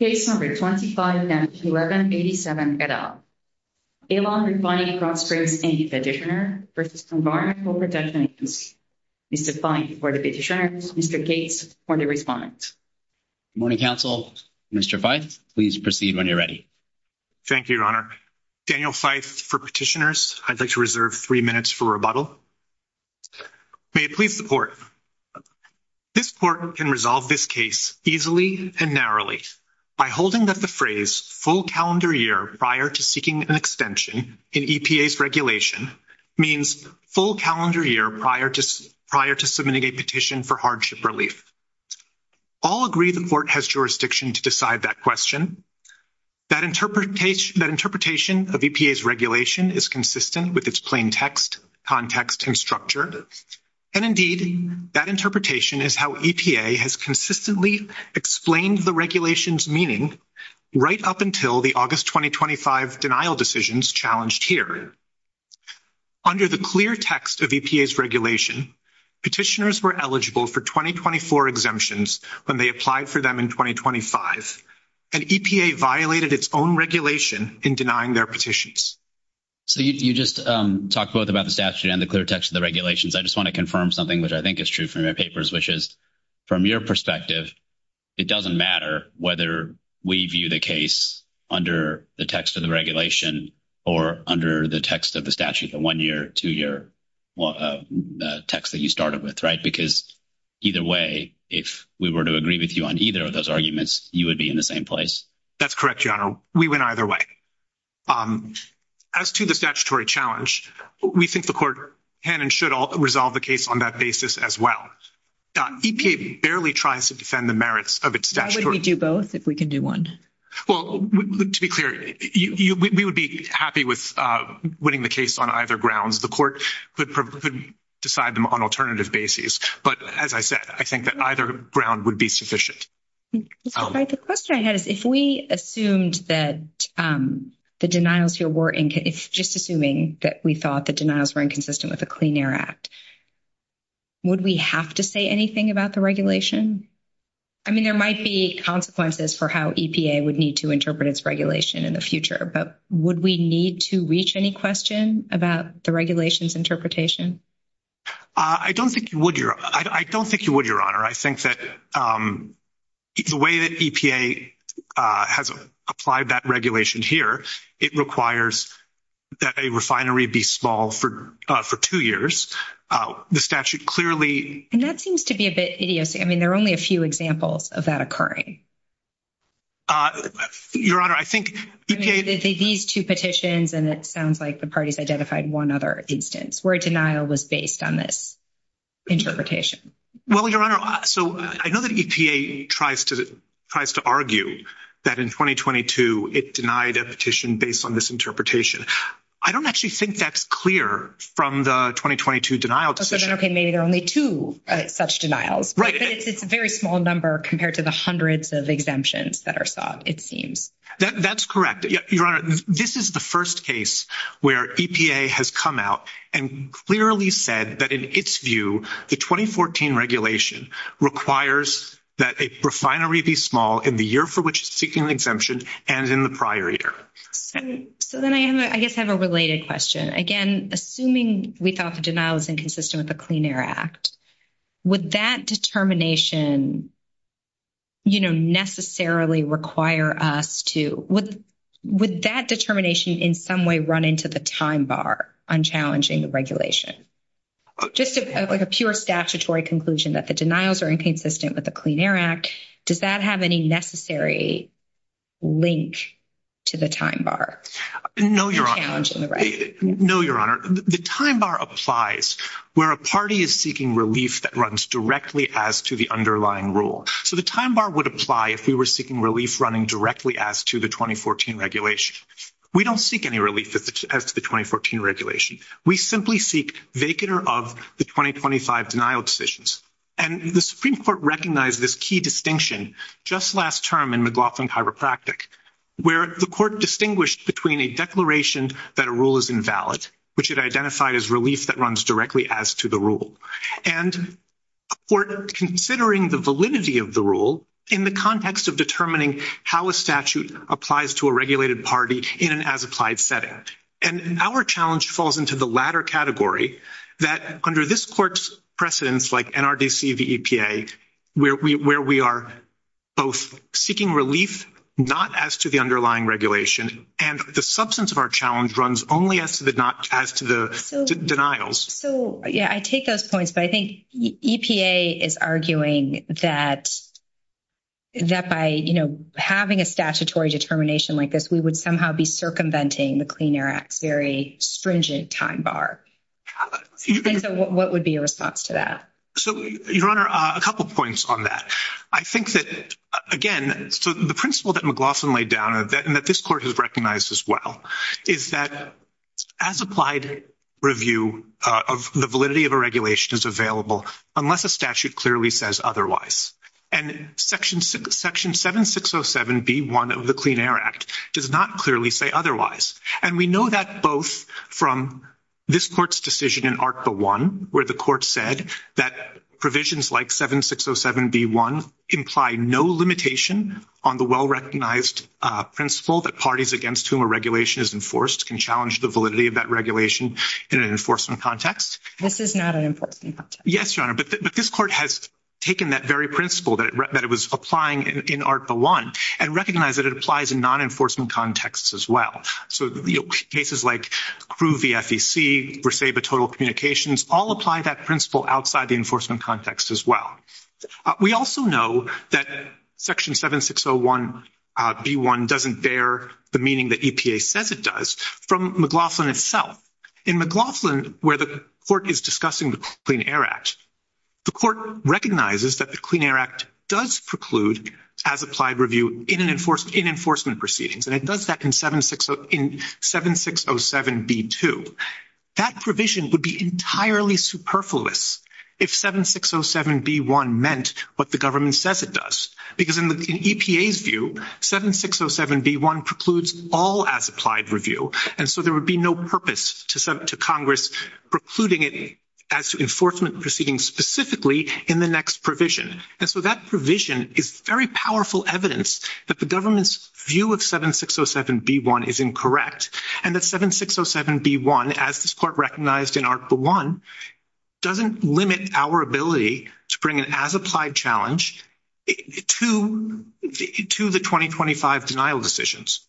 Case No. 25-1187, Fed Up. Alon Refining Krotz Springs, Inc. Petitioner v. Environmental Protection Agency. Mr. Feith for the petitioner. Mr. Gates for the respondent. Good morning, Council. Mr. Feith, please proceed when you're ready. Thank you, Your Honor. Daniel Feith for petitioners. I'd like to reserve three minutes for rebuttal. May it please the Court. This Court can resolve this case easily and narrowly by holding that the phrase, full calendar year prior to seeking an extension in EPA's regulation means full calendar year prior to submitting a petition for hardship relief. All agree the Court has jurisdiction to decide that question, that interpretation of EPA's regulation is consistent with its plain text, context, and structure, and indeed, that interpretation is how EPA has consistently explained the regulation's meaning right up until the August 2025 denial decisions challenged here. Under the clear text of EPA's regulation, petitioners were eligible for 2024 exemptions when they applied for them in 2025, and EPA violated its own regulation in denying their petitions. You just talked both about the statute and the clear text of the regulations. I just want to confirm something which I think is true from your papers, which is, from your perspective, it doesn't matter whether we view the case under the text of the regulation or under the text of the statute, the one-year, two-year text that you started with, right? Because either way, if we were to agree with you on either of those arguments, you would be in the same place. That's correct, Gianna. We went either way. As to the statutory challenge, we think the Court can and should resolve the case on that basis as well. EPA barely tries to defend the merits of its statute. Why wouldn't we do both if we can do one? Well, to be clear, we would be happy with winning the case on either grounds. The Court could decide them on alternative bases. But as I said, I think that either ground would be sufficient. The question I had is, if we assumed that the denials were inconsistent, just assuming that we thought the denials were inconsistent with the Clean Air Act, would we have to say anything about the regulation? I mean, there might be consequences for how EPA would need to interpret its regulation in the future, but would we need to reach any question about the regulation's interpretation? I don't think you would, Your Honor. I think that the way that EPA has applied that regulation here, it requires that a refinery be small for two years. The statute clearly— And that seems to be a bit idiosyncratic. I mean, there are only a few examples of that occurring. Your Honor, I think— These two petitions, and it sounds like the parties identified one other instance where denial was based on this interpretation. Well, Your Honor, so I know that EPA tries to argue that in 2022, it denied a petition based on this interpretation. I don't actually think that's clear from the 2022 denial petition. So then they made only two such denials. Right. It's a very small number compared to the hundreds of exemptions that are sought, it seems. That's correct. Your Honor, this is the first case where EPA has come out and clearly said that in its view, the 2014 regulation requires that a refinery be small in the year for which it's seeking the exemption and in the prior year. So then I guess I have a related question. Again, assuming we thought the denial was inconsistent with the Clean Air Act, would that determination, you know, necessarily require us to— would that determination in some way run into the time bar on challenging the regulation? Just like a pure statutory conclusion that the denials are inconsistent with the Clean Air Act, does that have any necessary link to the time bar? No, Your Honor. No, Your Honor. The time bar applies where a party is seeking relief that runs directly as to the underlying rule. So the time bar would apply if we were seeking relief running directly as to the 2014 regulation. We don't seek any relief as to the 2014 regulation. We simply seek vacant of the 2025 denial decisions. And the Supreme Court recognized this key distinction just last term in McLaughlin Chiropractic where the court distinguished between a declaration that a rule is invalid, which it identified as relief that runs directly as to the rule, and a court considering the validity of the rule in the context of determining how a statute applies to a regulated party in an as-applied setting. And our challenge falls into the latter category, that under this court's precedence like NRDC, the EPA, where we are both seeking relief not as to the underlying regulation, and the substance of our challenge runs only as to the denials. So, yeah, I take those points, but I think EPA is arguing that by, you know, having a statutory determination like this, we would somehow be circumventing the Clean Air Act's very stringent time bar. And so what would be your response to that? So, Your Honor, a couple points on that. I think that, again, the principle that McLaughlin laid down, and that this court has recognized as well, is that as-applied review of the validity of a regulation is available unless a statute clearly says otherwise. And Section 7607B1 of the Clean Air Act does not clearly say otherwise. And we know that both from this court's decision in ARCA I, where the court said that provisions like 7607B1 imply no limitation on the well-recognized principle that parties against whom a regulation is enforced can challenge the validity of that regulation in an enforcement context. This is not an enforcement context. Yes, Your Honor, but this court has taken that very principle that it was applying in ARCA I and recognized that it applies in non-enforcement contexts as well. So, you know, cases like Crew v. FEC, or say the total communications, all apply that principle outside the enforcement context as well. We also know that Section 7601B1 doesn't bear the meaning that EPA says it does from McLaughlin itself. In McLaughlin, where the court is discussing the Clean Air Act, the court recognizes that the Clean Air Act does preclude as-applied review in enforcement proceedings, and it does that in 7607B2. That provision would be entirely superfluous if 7607B1 meant what the government says it does, because in EPA's view, 7607B1 precludes all as-applied review, and so there would be no purpose to Congress precluding it as enforcement proceedings specifically in the next provision. And so that provision is very powerful evidence that the government's view of 7607B1 is incorrect and that 7607B1, as this court recognized in Article I, doesn't limit our ability to bring an as-applied challenge to the 2025 denial decisions,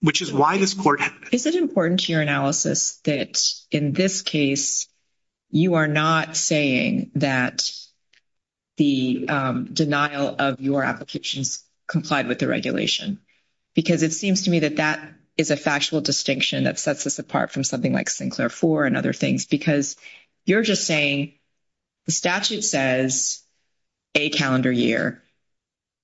which is why this court... It's important to your analysis that in this case, you are not saying that the denial of your application complied with the regulation, because it seems to me that that is a factual distinction that sets us apart from something like Sinclair IV and other things, because you're just saying the statute says a calendar year.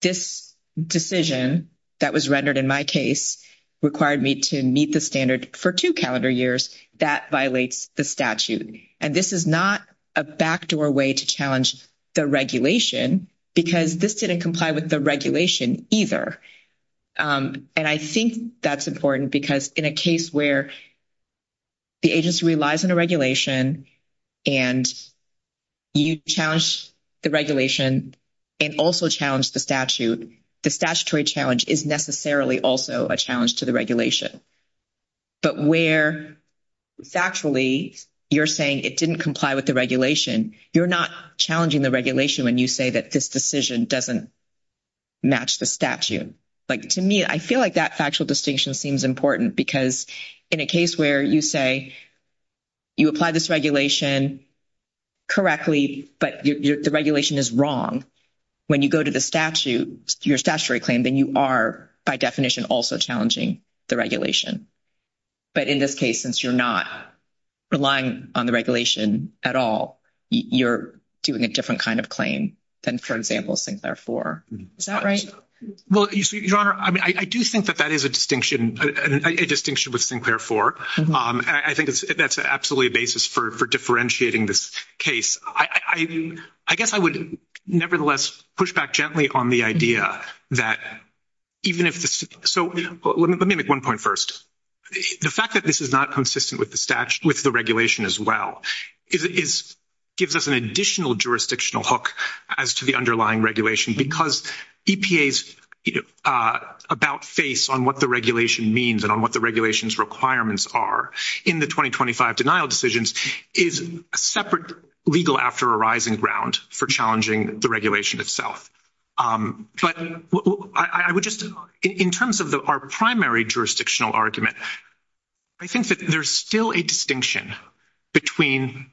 This decision that was rendered in my case required me to meet the standard for two calendar years. That violates the statute, and this is not a backdoor way to challenge the regulation, because this didn't comply with the regulation either. And I think that's important, because in a case where the agency relies on a regulation and you challenge the regulation and also challenge the statute, the statutory challenge is necessarily also a challenge to the regulation. But where factually you're saying it didn't comply with the regulation, you're not challenging the regulation when you say that this decision doesn't match the statute. To me, I feel like that factual distinction seems important, because in a case where you say, you apply this regulation correctly, but the regulation is wrong, when you go to the statute, your statutory claim, then you are, by definition, also challenging the regulation. But in this case, since you're not relying on the regulation at all, you're doing a different kind of claim than, for example, Sinclair 4. Is that right? Well, Your Honor, I do think that that is a distinction, a distinction with Sinclair 4. I think that's absolutely a basis for differentiating this case. I guess I would nevertheless push back gently on the idea that even if the— So let me make one point first. The fact that this is not consistent with the regulation as well gives us an additional jurisdictional hook as to the underlying regulation, because EPA's about face on what the regulation means and on what the regulation's requirements are in the 2025 denial decisions is a separate legal after arising ground for challenging the regulation itself. But I would just— In terms of our primary jurisdictional argument, I think that there's still a distinction between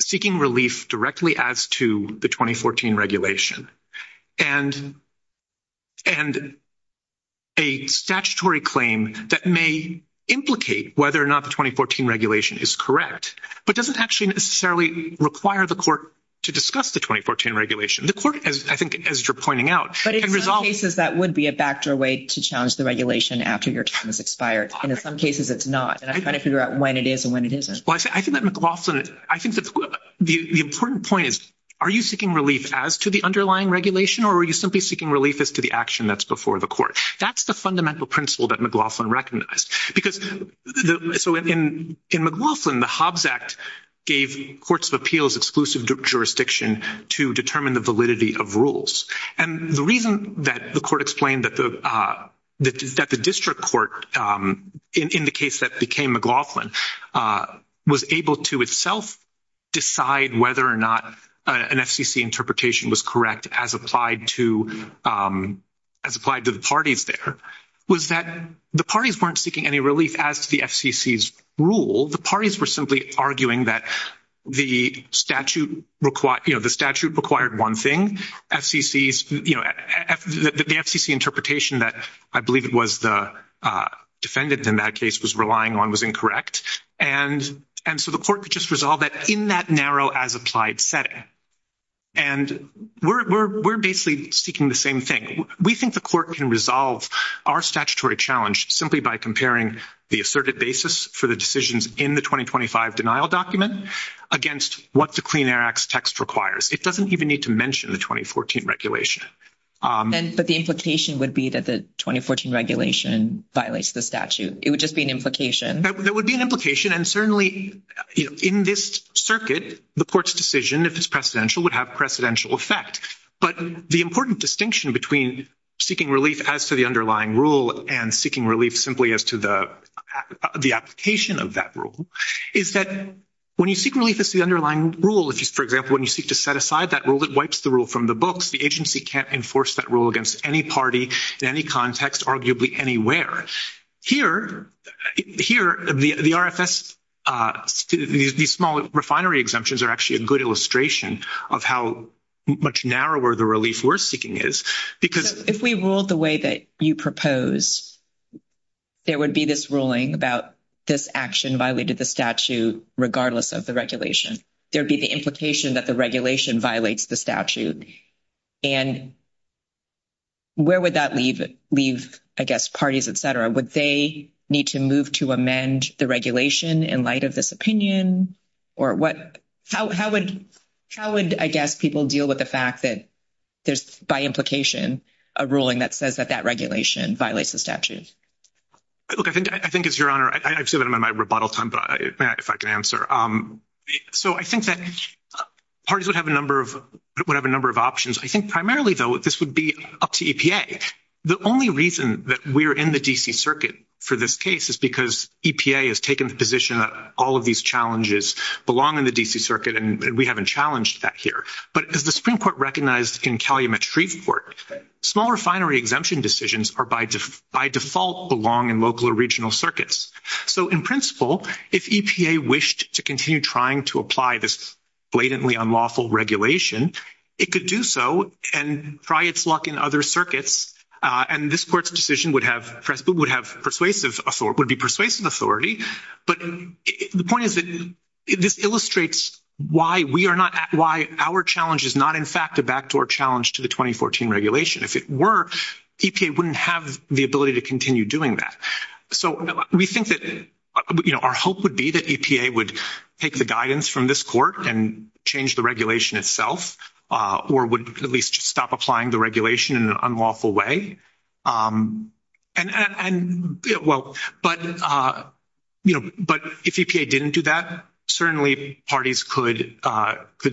seeking relief directly as to the 2014 regulation and a statutory claim that may implicate whether or not the 2014 regulation is correct but doesn't actually necessarily require the court to discuss the 2014 regulation. The court, I think, as you're pointing out— In some cases, that would be a backdoor way to challenge the regulation after your time has expired. In some cases, it's not. And I'm trying to figure out when it is and when it isn't. Well, I think that McLaughlin—I think the important point is, are you seeking relief as to the underlying regulation or are you simply seeking relief as to the action that's before the court? That's the fundamental principle that McLaughlin recognized. So in McLaughlin, the Hobbs Act gave courts of appeals exclusive jurisdiction to determine the validity of rules. And the reason that the court explained that the district court, in the case that became McLaughlin, was able to itself decide whether or not an FCC interpretation was correct as applied to the parties there, was that the parties weren't seeking any relief as to the FCC's rule. The parties were simply arguing that the statute required one thing. The FCC interpretation that I believe it was the defendants in that case was relying on was incorrect. And so the court could just resolve that in that narrow as-applied setting. And we're basically seeking the same thing. We think the court can resolve our statutory challenge simply by comparing the asserted basis for the decisions in the 2025 denial document against what the Clean Air Act's text requires. It doesn't even need to mention the 2014 regulation. But the implication would be that the 2014 regulation violates the statute. It would just be an implication. That would be an implication. And certainly, you know, in this circuit, the court's decision, if it's precedential, would have precedential effect. But the important distinction between seeking relief as to the underlying rule and seeking relief simply as to the application of that rule is that when you seek relief as to the underlying rule, for example, when you seek to set aside that rule, it wipes the rule from the books. The agency can't enforce that rule against any party in any context, arguably anywhere. Here, the RFS, these small refinery exemptions are actually a good illustration of how much narrower the relief we're seeking is. If we ruled the way that you proposed, there would be this ruling about this action violated the statute regardless of the regulation. There would be the implication that the regulation violates the statute. And where would that leave, I guess, parties, et cetera? Would they need to move to amend the regulation in light of this opinion? Or how would, I guess, people deal with the fact that there's, by implication, a ruling that says that that regulation violates the statute? Look, I think it's your honor. I'd say that I'm on my rebuttal time, but if I can answer. So I think that parties would have a number of options. I think primarily, though, this would be up to EPA. The only reason that we're in the D.C. Circuit for this case is because EPA has taken the position that all of these challenges belong in the D.C. Circuit, and we haven't challenged that here. But does the Supreme Court recognize in Calumet-Freeport that small refinery exemption decisions by default belong in local or regional circuits? So in principle, if EPA wished to continue trying to apply this blatantly unlawful regulation, it could do so and try its luck in other circuits. And this court's decision would have persuasive authority. But the point is that this illustrates why our challenge is not, in fact, the backdoor challenge to the 2014 regulation. If it were, EPA wouldn't have the ability to continue doing that. So we think that, you know, our hope would be that EPA would take the guidance from this court and change the regulation itself or would at least stop applying the regulation in an unlawful way. And, well, but, you know, but if EPA didn't do that, certainly parties could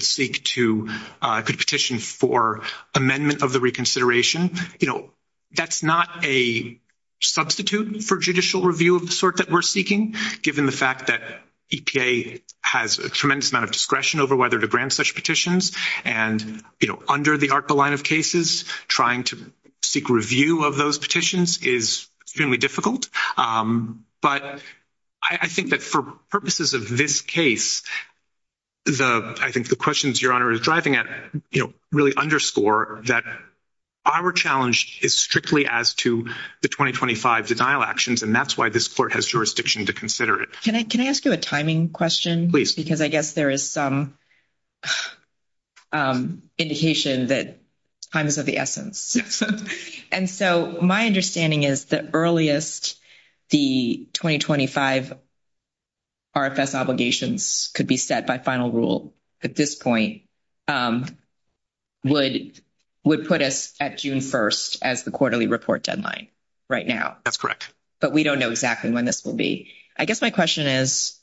seek to, could petition for amendment of the reconsideration. You know, that's not a substitute for judicial review of the sort that we're seeking, given the fact that EPA has a tremendous amount of discretion over whether to grant such petitions and, you know, under the ARPA line of cases, trying to seek review of those petitions is extremely difficult. But I think that for purposes of this case, the, I think the questions Your Honor is driving at, you know, really underscore that our challenge is strictly as to the 2025 denial actions, and that's why this court has jurisdiction to consider it. Can I ask you a timing question? Because I guess there is some indication that time is of the essence. And so my understanding is that earliest the 2025 RFS obligations could be set by final rule at this point would put us at June 1st as the quarterly report deadline right now. That's correct. But we don't know exactly when this will be. I guess my question is,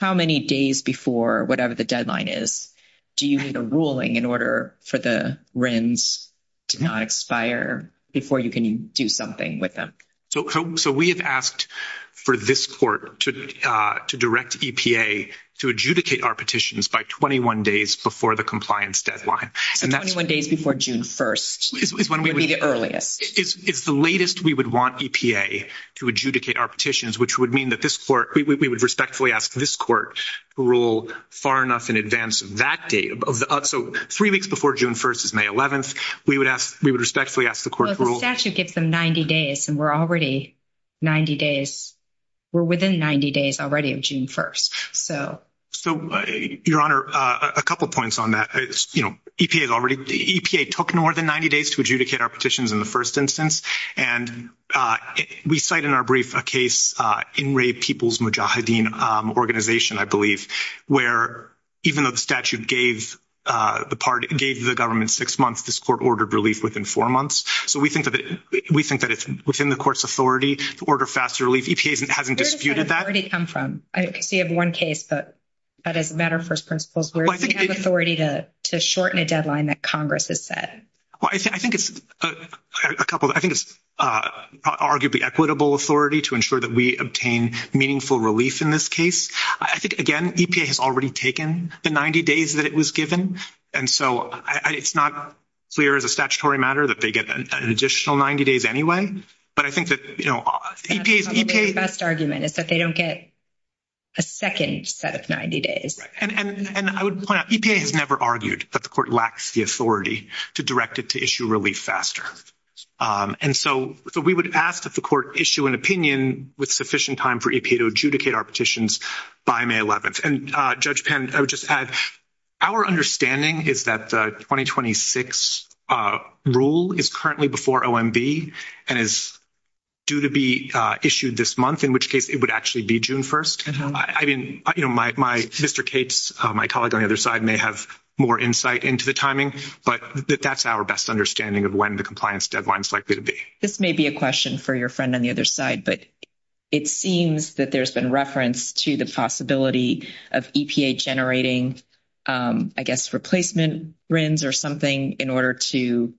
how many days before whatever the deadline is, do you need a ruling in order for the RINs to not expire before you can do something with them? So we have asked for this court to direct EPA to adjudicate our petitions by 21 days before the compliance deadline. And 21 days before June 1st would be the earliest. It's the latest we would want EPA to adjudicate our petitions, which would mean that this court, we would respectfully ask this court to rule far enough in advance of that date. So three weeks before June 1st is May 11th. We would respectfully ask the court to rule. The statute gives them 90 days, and we're already 90 days. We're within 90 days already of June 1st. So, Your Honor, a couple points on that. EPA took more than 90 days to adjudicate our petitions in the first instance. And we cite in our brief a case in Raid People's Mujahideen Organization, I believe, where even though the statute gave the government six months, this court ordered relief within four months. So we think that it's within the court's authority to order faster relief. EPA hasn't disputed that. Where does that already come from? I see you have one case, but as a matter of first principles, where does it have authority to shorten a deadline that Congress has set? Well, I think it's arguably equitable authority to ensure that we obtain meaningful relief in this case. I think, again, EPA has already taken the 90 days that it was given. And so it's not clear as a statutory matter that they get an additional 90 days anyway. But I think that, you know, EPA's— The best argument is that they don't get a second set of 90 days. And I would point out EPA has never argued that the court lacks the authority to direct it to issue relief faster. And so we would ask that the court issue an opinion with sufficient time for EPA to adjudicate our petitions by May 11th. And, Judge Penn, I would just add, our understanding is that the 2026 rule is currently before OMB and is due to be issued this month, in which case it would actually be June 1st. I mean, you know, my—Mr. Cates, my colleague on the other side, may have more insight into the timing. But that's our best understanding of when the compliance deadline is likely to be. This may be a question for your friend on the other side, but it seems that there's been reference to the possibility of EPA generating, I guess, replacement RINs or something in order to—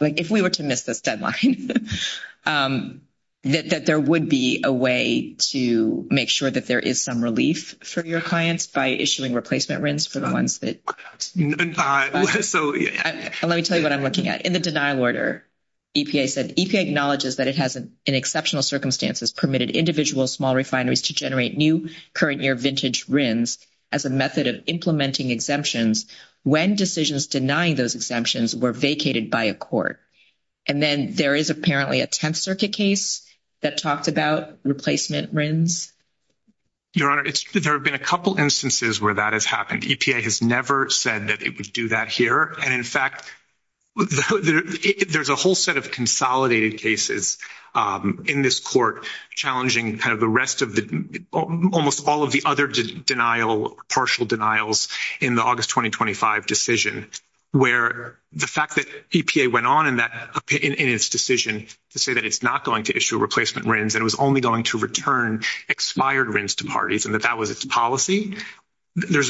like, if we were to miss this deadline, that there would be a way to make sure that there is some relief for your clients by issuing replacement RINs for the ones that— Let me tell you what I'm looking at. In the denial order, EPA said, EPA acknowledges that it has, in exceptional circumstances, permitted individual small refineries to generate new current-year vintage RINs as a method of implementing exemptions when decisions denying those exemptions were vacated by a court. And then there is apparently a Tenth Circuit case that talks about replacement RINs? Your Honor, there have been a couple instances where that has happened. EPA has never said that it would do that here. And, in fact, there's a whole set of consolidated cases in this court challenging kind of the rest of the—almost all of the other partial denials in the August 2025 decision where the fact that EPA went on in its decision to say that it's not going to issue replacement RINs and it was only going to return expired RINs to parties and that that was its policy—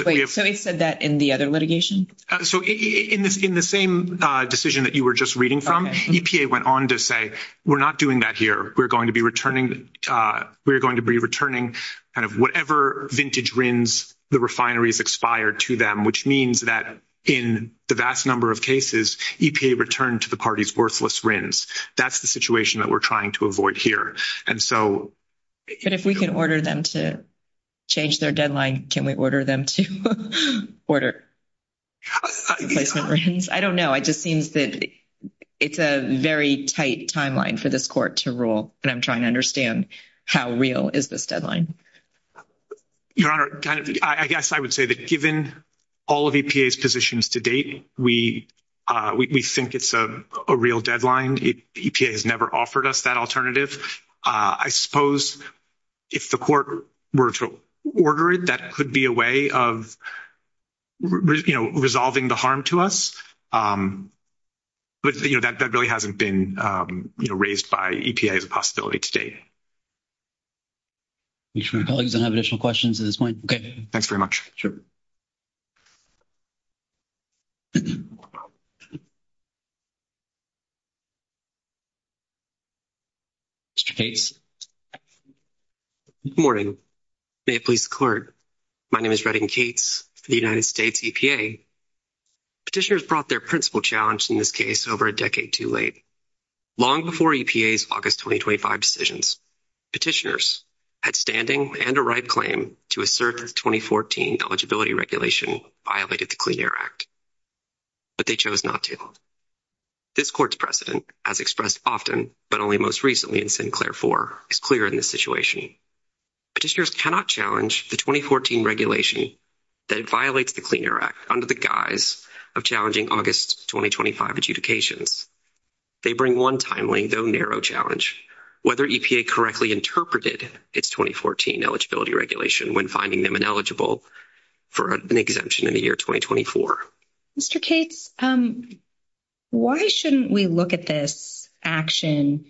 Wait, somebody said that in the other litigation? So, in the same decision that you were just reading from, EPA went on to say, we're not doing that here. We're going to be returning—we're going to be returning kind of whatever vintage RINs the refineries expired to them, which means that in the vast number of cases, EPA returned to the parties worthless RINs. That's the situation that we're trying to avoid here. But if we can order them to change their deadline, can we order them to order replacement RINs? I don't know. It just seems that it's a very tight timeline for this court to rule, but I'm trying to understand how real is this deadline. Your Honor, I guess I would say that given all of EPA's positions to date, we think it's a real deadline. EPA has never offered us that alternative. I suppose if the court were to order it, that could be a way of, you know, resolving the harm to us. But, you know, that really hasn't been, you know, raised by EPA as a possibility to date. I'm sure our colleagues don't have additional questions at this point. Okay. Thanks very much. Sure. Mr. Cates. Good morning. May it please the Court. My name is Redding Cates for the United States EPA. Petitioners brought their principal challenge in this case over a decade too late. Long before EPA's August 2025 decisions, petitioners had standing and a right claim to assert that the 2014 eligibility regulation violated the Clean Air Act. But they chose not to. This Court's precedent, as expressed often, but only most recently in Sinclair 4, is clear in this situation. Petitioners cannot challenge the 2014 regulation that violates the Clean Air Act under the guise of challenging August 2025 adjudications. They bring one timely, though narrow, challenge, whether EPA correctly interpreted its 2014 eligibility regulation when finding them ineligible for an exemption in the year 2024. Mr. Cates, why shouldn't we look at this action?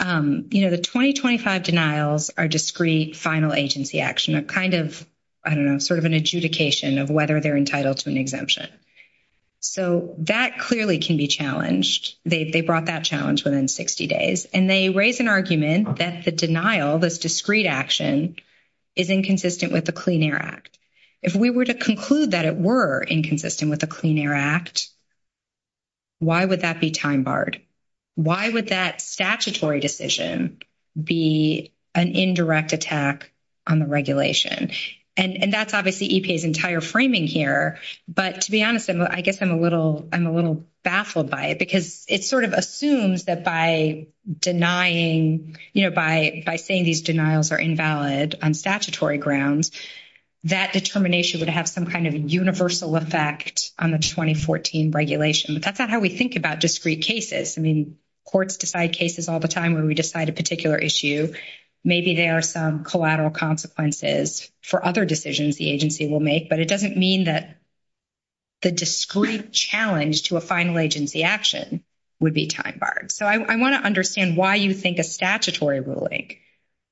You know, the 2025 denials are discrete, final agency action, a kind of, I don't know, sort of an adjudication of whether they're entitled to an exemption. So that clearly can be challenged. They brought that challenge within 60 days. And they raised an argument that the denial, the discrete action, is inconsistent with the Clean Air Act. If we were to conclude that it were inconsistent with the Clean Air Act, why would that be time-barred? Why would that statutory decision be an indirect attack on the regulation? And that's obviously EPA's entire framing here. But to be honest, I guess I'm a little baffled by it. Because it sort of assumes that by denying, you know, by saying these denials are invalid on statutory grounds, that determination would have some kind of universal effect on the 2014 regulation. But that's not how we think about discrete cases. I mean, courts decide cases all the time when we decide a particular issue. Maybe there are some collateral consequences for other decisions the agency will make. But it doesn't mean that the discrete challenge to a final agency action would be time-barred. So I want to understand why you think a statutory ruling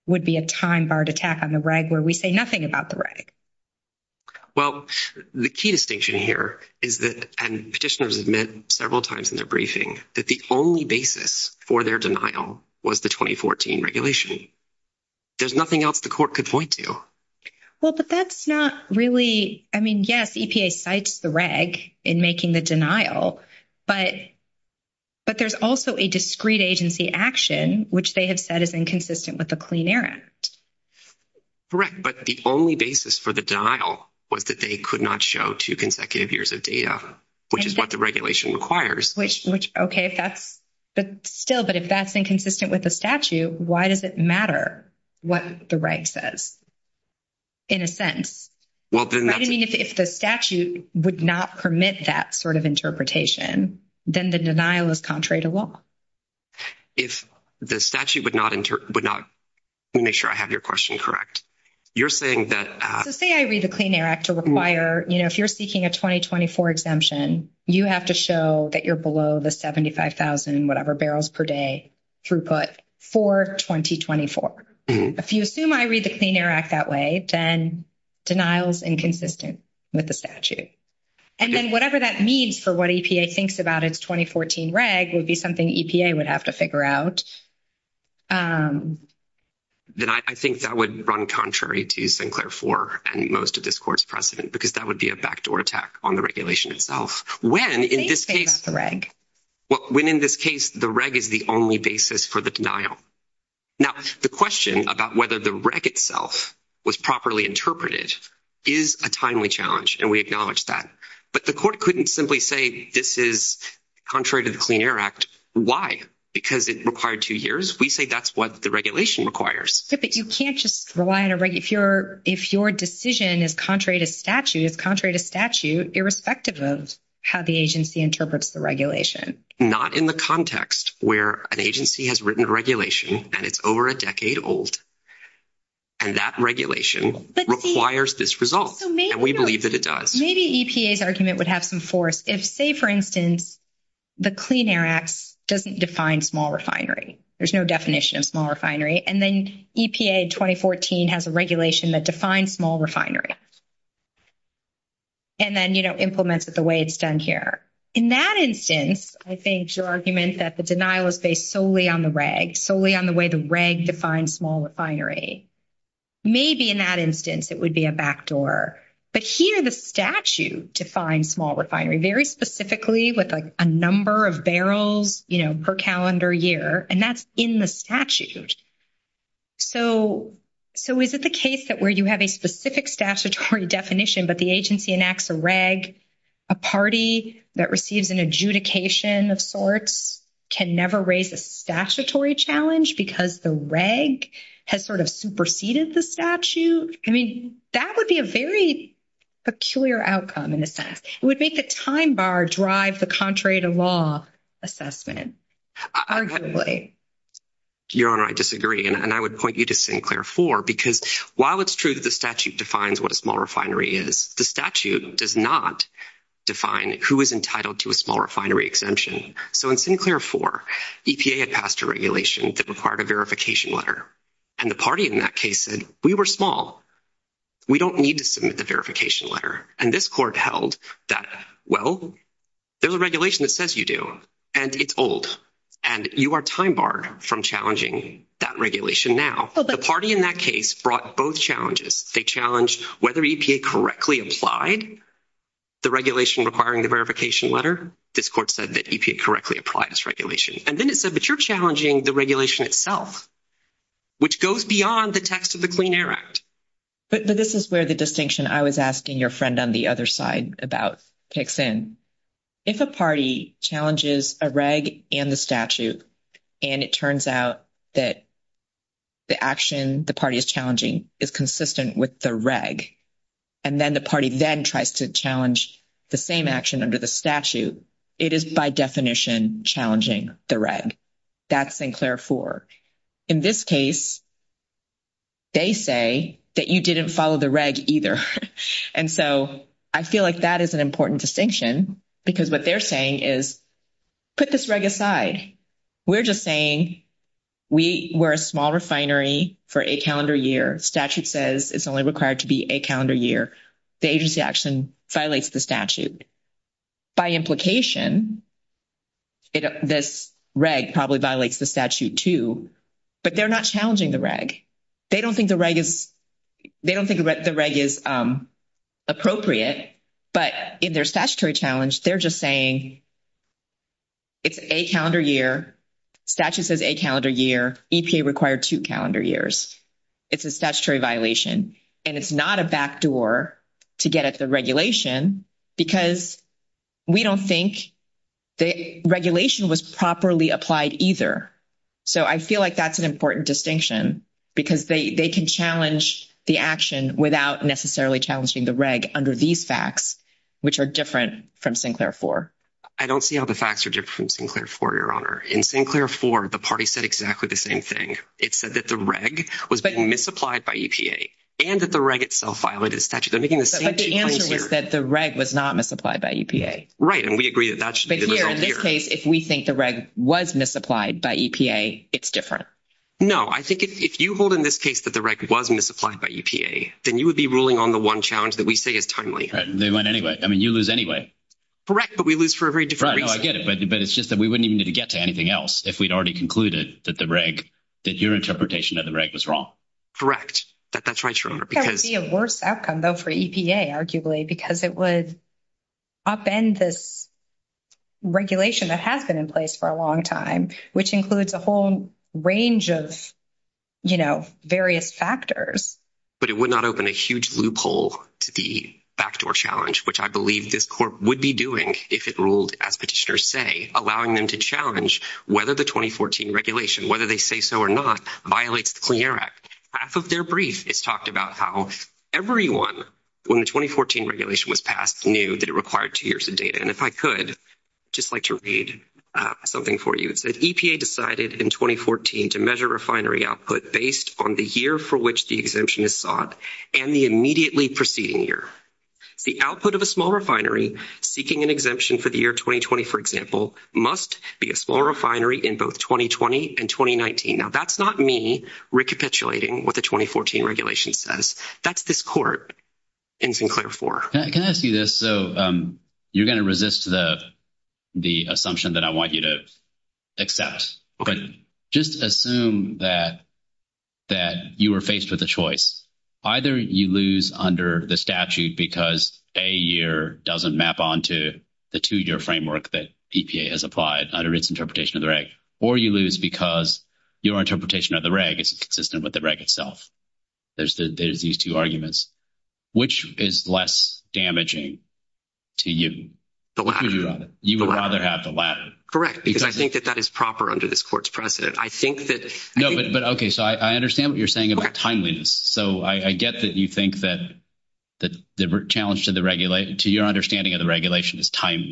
would be a time-barred attack on the reg where we say nothing about the reg. Well, the key distinction here is that, and petitioners have meant several times in their briefing, that the only basis for their denial was the 2014 regulation. There's nothing else the court could point to. Well, but that's not really, I mean, yes, EPA cites the reg in making the denial. But there's also a discrete agency action, which they have said is inconsistent with the Clean Air Act. Correct. But the only basis for the denial was that they could not show two consecutive years of data, which is what the regulation requires. Which, okay, that's still, but if that's inconsistent with the statute, why does it matter what the reg says, in a sense? Well, then that's... I mean, if the statute would not permit that sort of interpretation, then the denial is contrary to what? If the statute would not, let me make sure I have your question correct. You're saying that... So say I read the Clean Air Act to require, you know, if you're seeking a 2024 exemption, you have to show that you're below the 75,000, whatever, barrels per day throughput for 2024. If you assume I read the Clean Air Act that way, then denial is inconsistent with the statute. And then whatever that means for what EPA thinks about its 2014 reg would be something EPA would have to figure out. Then I think that would run contrary to Sinclair IV and most of this Court's precedent, because that would be a backdoor attack on the regulation itself. When in this case... They say that's a reg. Well, when in this case, the reg is the only basis for the denial. Now, the question about whether the reg itself was properly interpreted is a timely challenge, and we acknowledge that. But the Court couldn't simply say this is contrary to the Clean Air Act. Why? Because it required two years. We say that's what the regulation requires. Yeah, but you can't just rely on a reg. If your decision is contrary to statute, it's contrary to statute irrespective of how the agency interprets the regulation. Not in the context where an agency has written a regulation, and it's over a decade old, and that regulation requires this result. And we believe that it does. Maybe EPA's argument would have some force if, say, for instance, the Clean Air Act doesn't define small refinery. There's no definition of small refinery. And then EPA 2014 has a regulation that defines small refineries. And then, you know, implements it the way it's done here. In that instance, I think your argument that the denial is based solely on the reg, solely on the way the reg defines small refinery. Maybe in that instance it would be a backdoor. But here the statute defines small refinery, very specifically with, like, a number of barrels, you know, per calendar year. And that's in the statute. So is it the case that where you have a specific statutory definition, but the agency enacts a reg, a party that receives an adjudication of sorts, can never raise a statutory challenge because the reg has sort of superseded the statute? I mean, that would be a very peculiar outcome in effect. It would make a time bar drive the contrary to law assessment, arguably. Your Honor, I disagree. And I would point you to Sinclair 4 because while it's true that the statute defines what a small refinery is, the statute does not define who is entitled to a small refinery exemption. So in Sinclair 4, EPA had passed a regulation that required a verification letter. And the party in that case said, we were small. We don't need to submit the verification letter. And this court held that, well, there's a regulation that says you do. And it's old. And you are time barred from challenging that regulation now. The party in that case brought both challenges. They challenged whether EPA correctly applied the regulation requiring the verification letter. This court said that EPA correctly applied this regulation. And then it said, but you're challenging the regulation itself, which goes beyond the text of the Clean Air Act. But this is where the distinction I was asking your friend on the other side about kicks in. If a party challenges a reg and the statute, and it turns out that the action the party is challenging is consistent with the reg, and then the party then tries to challenge the same action under the statute, it is by definition challenging the reg. That's Sinclair 4. In this case, they say that you didn't follow the reg either. And so I feel like that is an important distinction because what they're saying is put this reg aside. We're just saying we're a small refinery for a calendar year. Statute says it's only required to be a calendar year. The agency action violates the statute. By implication, this reg probably violates the statute too. But they're not challenging the reg. They don't think the reg is appropriate. But in their statutory challenge, they're just saying it's a calendar year. Statute says a calendar year. EPA required two calendar years. It's a statutory violation. And it's not a backdoor to get at the regulation because we don't think the regulation was properly applied either. So I feel like that's an important distinction because they can challenge the action without necessarily challenging the reg under these facts, which are different from Sinclair 4. I don't see how the facts are different from Sinclair 4, Your Honor. In Sinclair 4, the party said exactly the same thing. It said that the reg was being misapplied by EPA and that the reg itself violated the statute. But the answer is that the reg was not misapplied by EPA. Right. And we agree that that should be the rule here. In this case, if we think the reg was misapplied by EPA, it's different. No. I think if you hold in this case that the reg was misapplied by EPA, then you would be ruling on the one challenge that we say is timely. They went anyway. I mean, you lose anyway. Correct. But we lose for a very different reason. Right. No, I get it. But it's just that we wouldn't even need to get to anything else if we'd already concluded that the reg, that your interpretation of the reg was wrong. Correct. That's right, Your Honor. That would be a worse outcome, though, for EPA, arguably, because it would upend this regulation that had been in place for a long time, which includes a whole range of, you know, various factors. But it would not open a huge loophole to the backdoor challenge, which I believe this court would be doing if it ruled, as petitioners say, allowing them to challenge whether the 2014 regulation, whether they say so or not, violates the Clean Air Act. Half of their brief is talked about how everyone, when the 2014 regulation was passed, knew that it required two years of data. And if I could, I'd just like to read something for you. It says, EPA decided in 2014 to measure refinery output based on the year for which the exemption is sought and the immediately preceding year. The output of a small refinery seeking an exemption for the year 2020, for example, must be a small refinery in both 2020 and 2019. Now, that's not me recapitulating what the 2014 regulation says. That's this court in Sinclair IV. Can I ask you this? So you're going to resist the assumption that I want you to accept, but just assume that you were faced with a choice. Either you lose under the statute because a year doesn't map onto the two-year framework that EPA has applied under its interpretation of the reg, or you lose because your interpretation of the reg is inconsistent with the reg itself. There's these two arguments. Which is less damaging to you? You would rather have the latter. Correct, because I think that that is proper under this court's precedent. Okay, so I understand what you're saying about timeliness. So I get that you think that the challenge to your understanding of the regulation is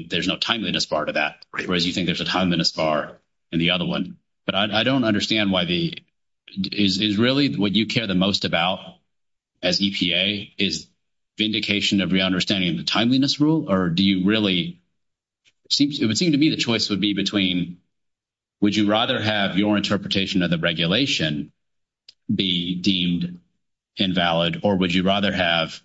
there's no timeliness part of that, whereas you think there's a timeliness part in the other one. But I don't understand why the – is really what you care the most about as EPA is vindication of your understanding of the timeliness rule? Or do you really – it would seem to me the choice would be between would you rather have your interpretation of the regulation be deemed invalid, or would you rather have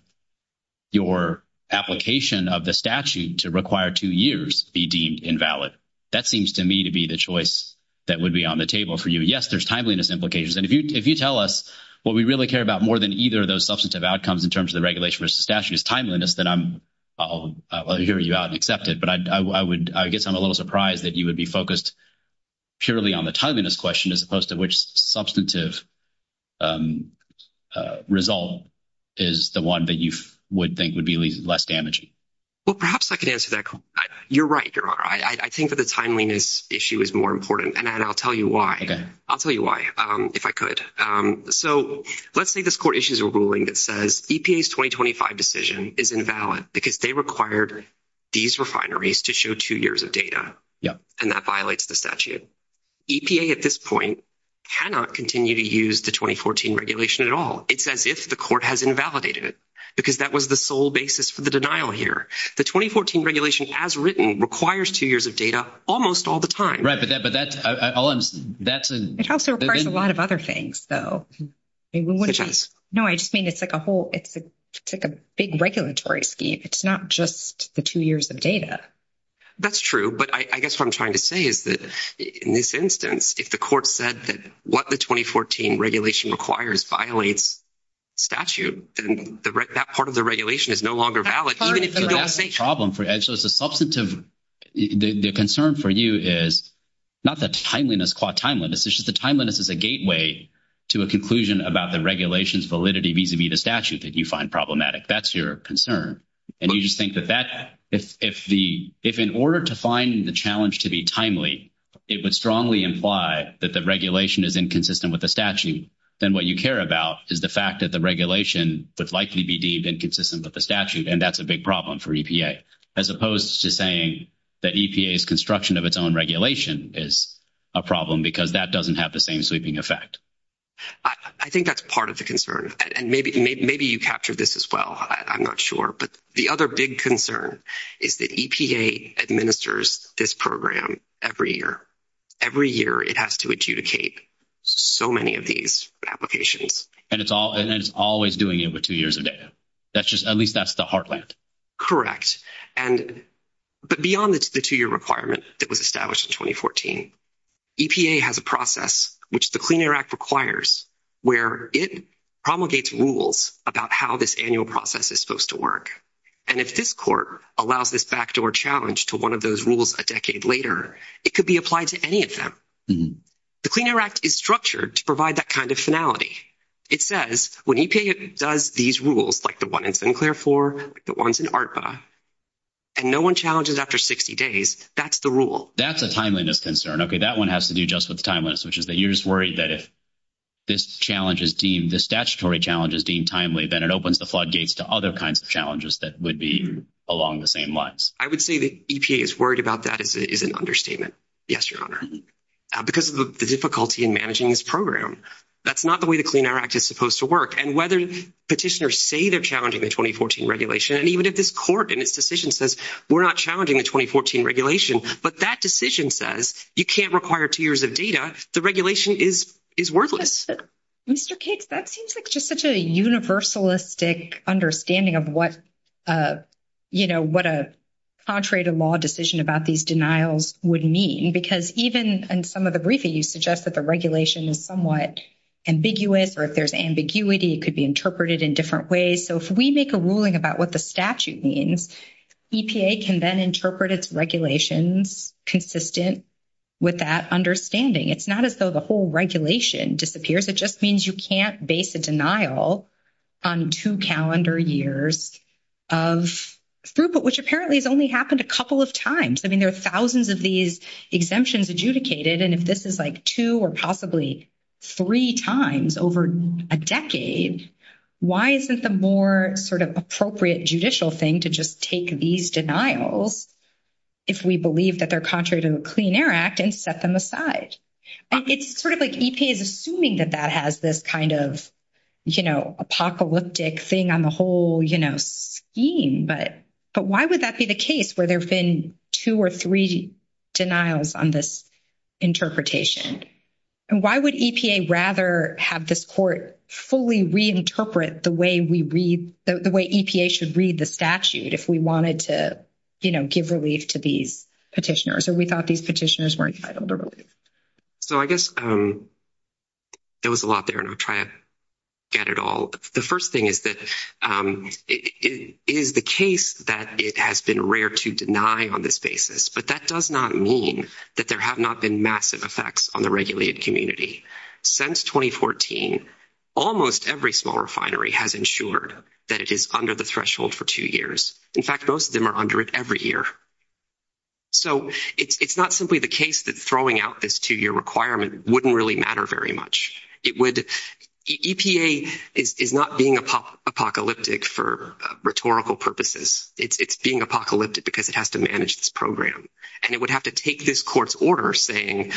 your application of the statute to require two years be deemed invalid? That seems to me to be the choice that would be on the table for you. Yes, there's timeliness implications. And if you tell us what we really care about more than either of those substantive outcomes in terms of the regulation versus the statute is timeliness, then I'll hear you out and accept it. But I guess I'm a little surprised that you would be focused purely on the timeliness question as opposed to which substantive result is the one that you would think would be less damaging. Well, perhaps I could answer that. You're right. I think there are. I think that the timeliness issue is more important, and I'll tell you why. I'll tell you why, if I could. So let's say this court issues a ruling that says EPA's 2025 decision is invalid because they required these refineries to show two years of data. Yes. And that violates the statute. EPA at this point cannot continue to use the 2014 regulation at all. It says if the court has invalidated it because that was the sole basis for the denial here. The 2014 regulation as written requires two years of data almost all the time. But that's. It also requires a lot of other things, though. No, I just mean it's like a big regulatory scheme. It's not just the two years of data. That's true. But I guess what I'm trying to say is that in this instance, if the court said that what the 2014 regulation requires violates statute, then that part of the regulation is no longer valid. But that's a problem for. So it's a substantive. The concern for you is not the timeliness, qua timeliness. It's just the timeliness is a gateway to a conclusion about the regulation's validity vis-a-vis the statute that you find problematic. That's your concern. And you think that that. If in order to find the challenge to be timely, it would strongly imply that the regulation is inconsistent with the statute. Then what you care about is the fact that the regulation would likely be deemed inconsistent with the statute. And that's a big problem for EPA, as opposed to saying that EPA's construction of its own regulation is a problem because that doesn't have the same sweeping effect. I think that's part of the concern. And maybe you captured this as well. I'm not sure. But the other big concern is that EPA administers this program every year. Every year it has to adjudicate so many of these applications. And it's always doing it with two years of data. At least that's the heartland. Correct. But beyond the two-year requirement that was established in 2014, EPA has a process, which the Clean Air Act requires, where it promulgates rules about how this annual process is supposed to work. And if this court allows this backdoor challenge to one of those rules a decade later, it could be applied to any of them. The Clean Air Act is structured to provide that kind of finality. It says when EPA does these rules, like the one in Sinclair IV, like the ones in ARPA, and no one challenges after 60 days, that's the rule. That's the timeliness concern. Okay, that one has to do just with timeliness, which is that you're just worried that if this challenge is deemed, this statutory challenge is deemed timely, then it opens the floodgates to other kinds of challenges that would be along the same lines. I would say that EPA is worried about that is an understatement. Yes, Your Honor. Because of the difficulty in managing this program. That's not the way the Clean Air Act is supposed to work. And whether petitioners say they're challenging the 2014 regulation, and even if this court in its decision says we're not challenging the 2014 regulation, but that decision says you can't require two years of data, the regulation is worthless. Mr. Cakes, that seems like just such a universalistic understanding of what, you know, what a contrary to law decision about these denials would mean. Because even in some of the briefings, you suggest that the regulation is somewhat ambiguous, or if there's ambiguity, it could be interpreted in different ways. So if we make a ruling about what the statute means, EPA can then interpret its regulations consistent with that understanding. It's not as though the whole regulation disappears. It just means you can't base a denial on two calendar years of throughput, which apparently has only happened a couple of times. I mean, there are thousands of these exemptions adjudicated. And if this is like two or possibly three times over a decade, why isn't the more sort of appropriate judicial thing to just take these denials, if we believe that they're contrary to the Clean Air Act, and set them aside? It's sort of like EPA is assuming that that has this kind of, you know, apocalyptic thing on the whole, you know, scheme. But why would that be the case, where there have been two or three denials on this interpretation? And why would EPA rather have this court fully reinterpret the way we read, the way EPA should read the statute if we wanted to, you know, give relief to these petitioners? So we thought these petitioners were entitled to relief. So I guess there was a lot there, and I'll try to get it all. The first thing is that it is the case that it has been rare to deny on this basis. But that does not mean that there have not been massive effects on the regulated community. Since 2014, almost every small refinery has ensured that it is under the threshold for two years. In fact, most of them are under it every year. So it's not simply the case that throwing out this two-year requirement wouldn't really matter very much. It would—EPA is not being apocalyptic for rhetorical purposes. It's being apocalyptic because it has to manage this program. And it would have to take this court's order saying,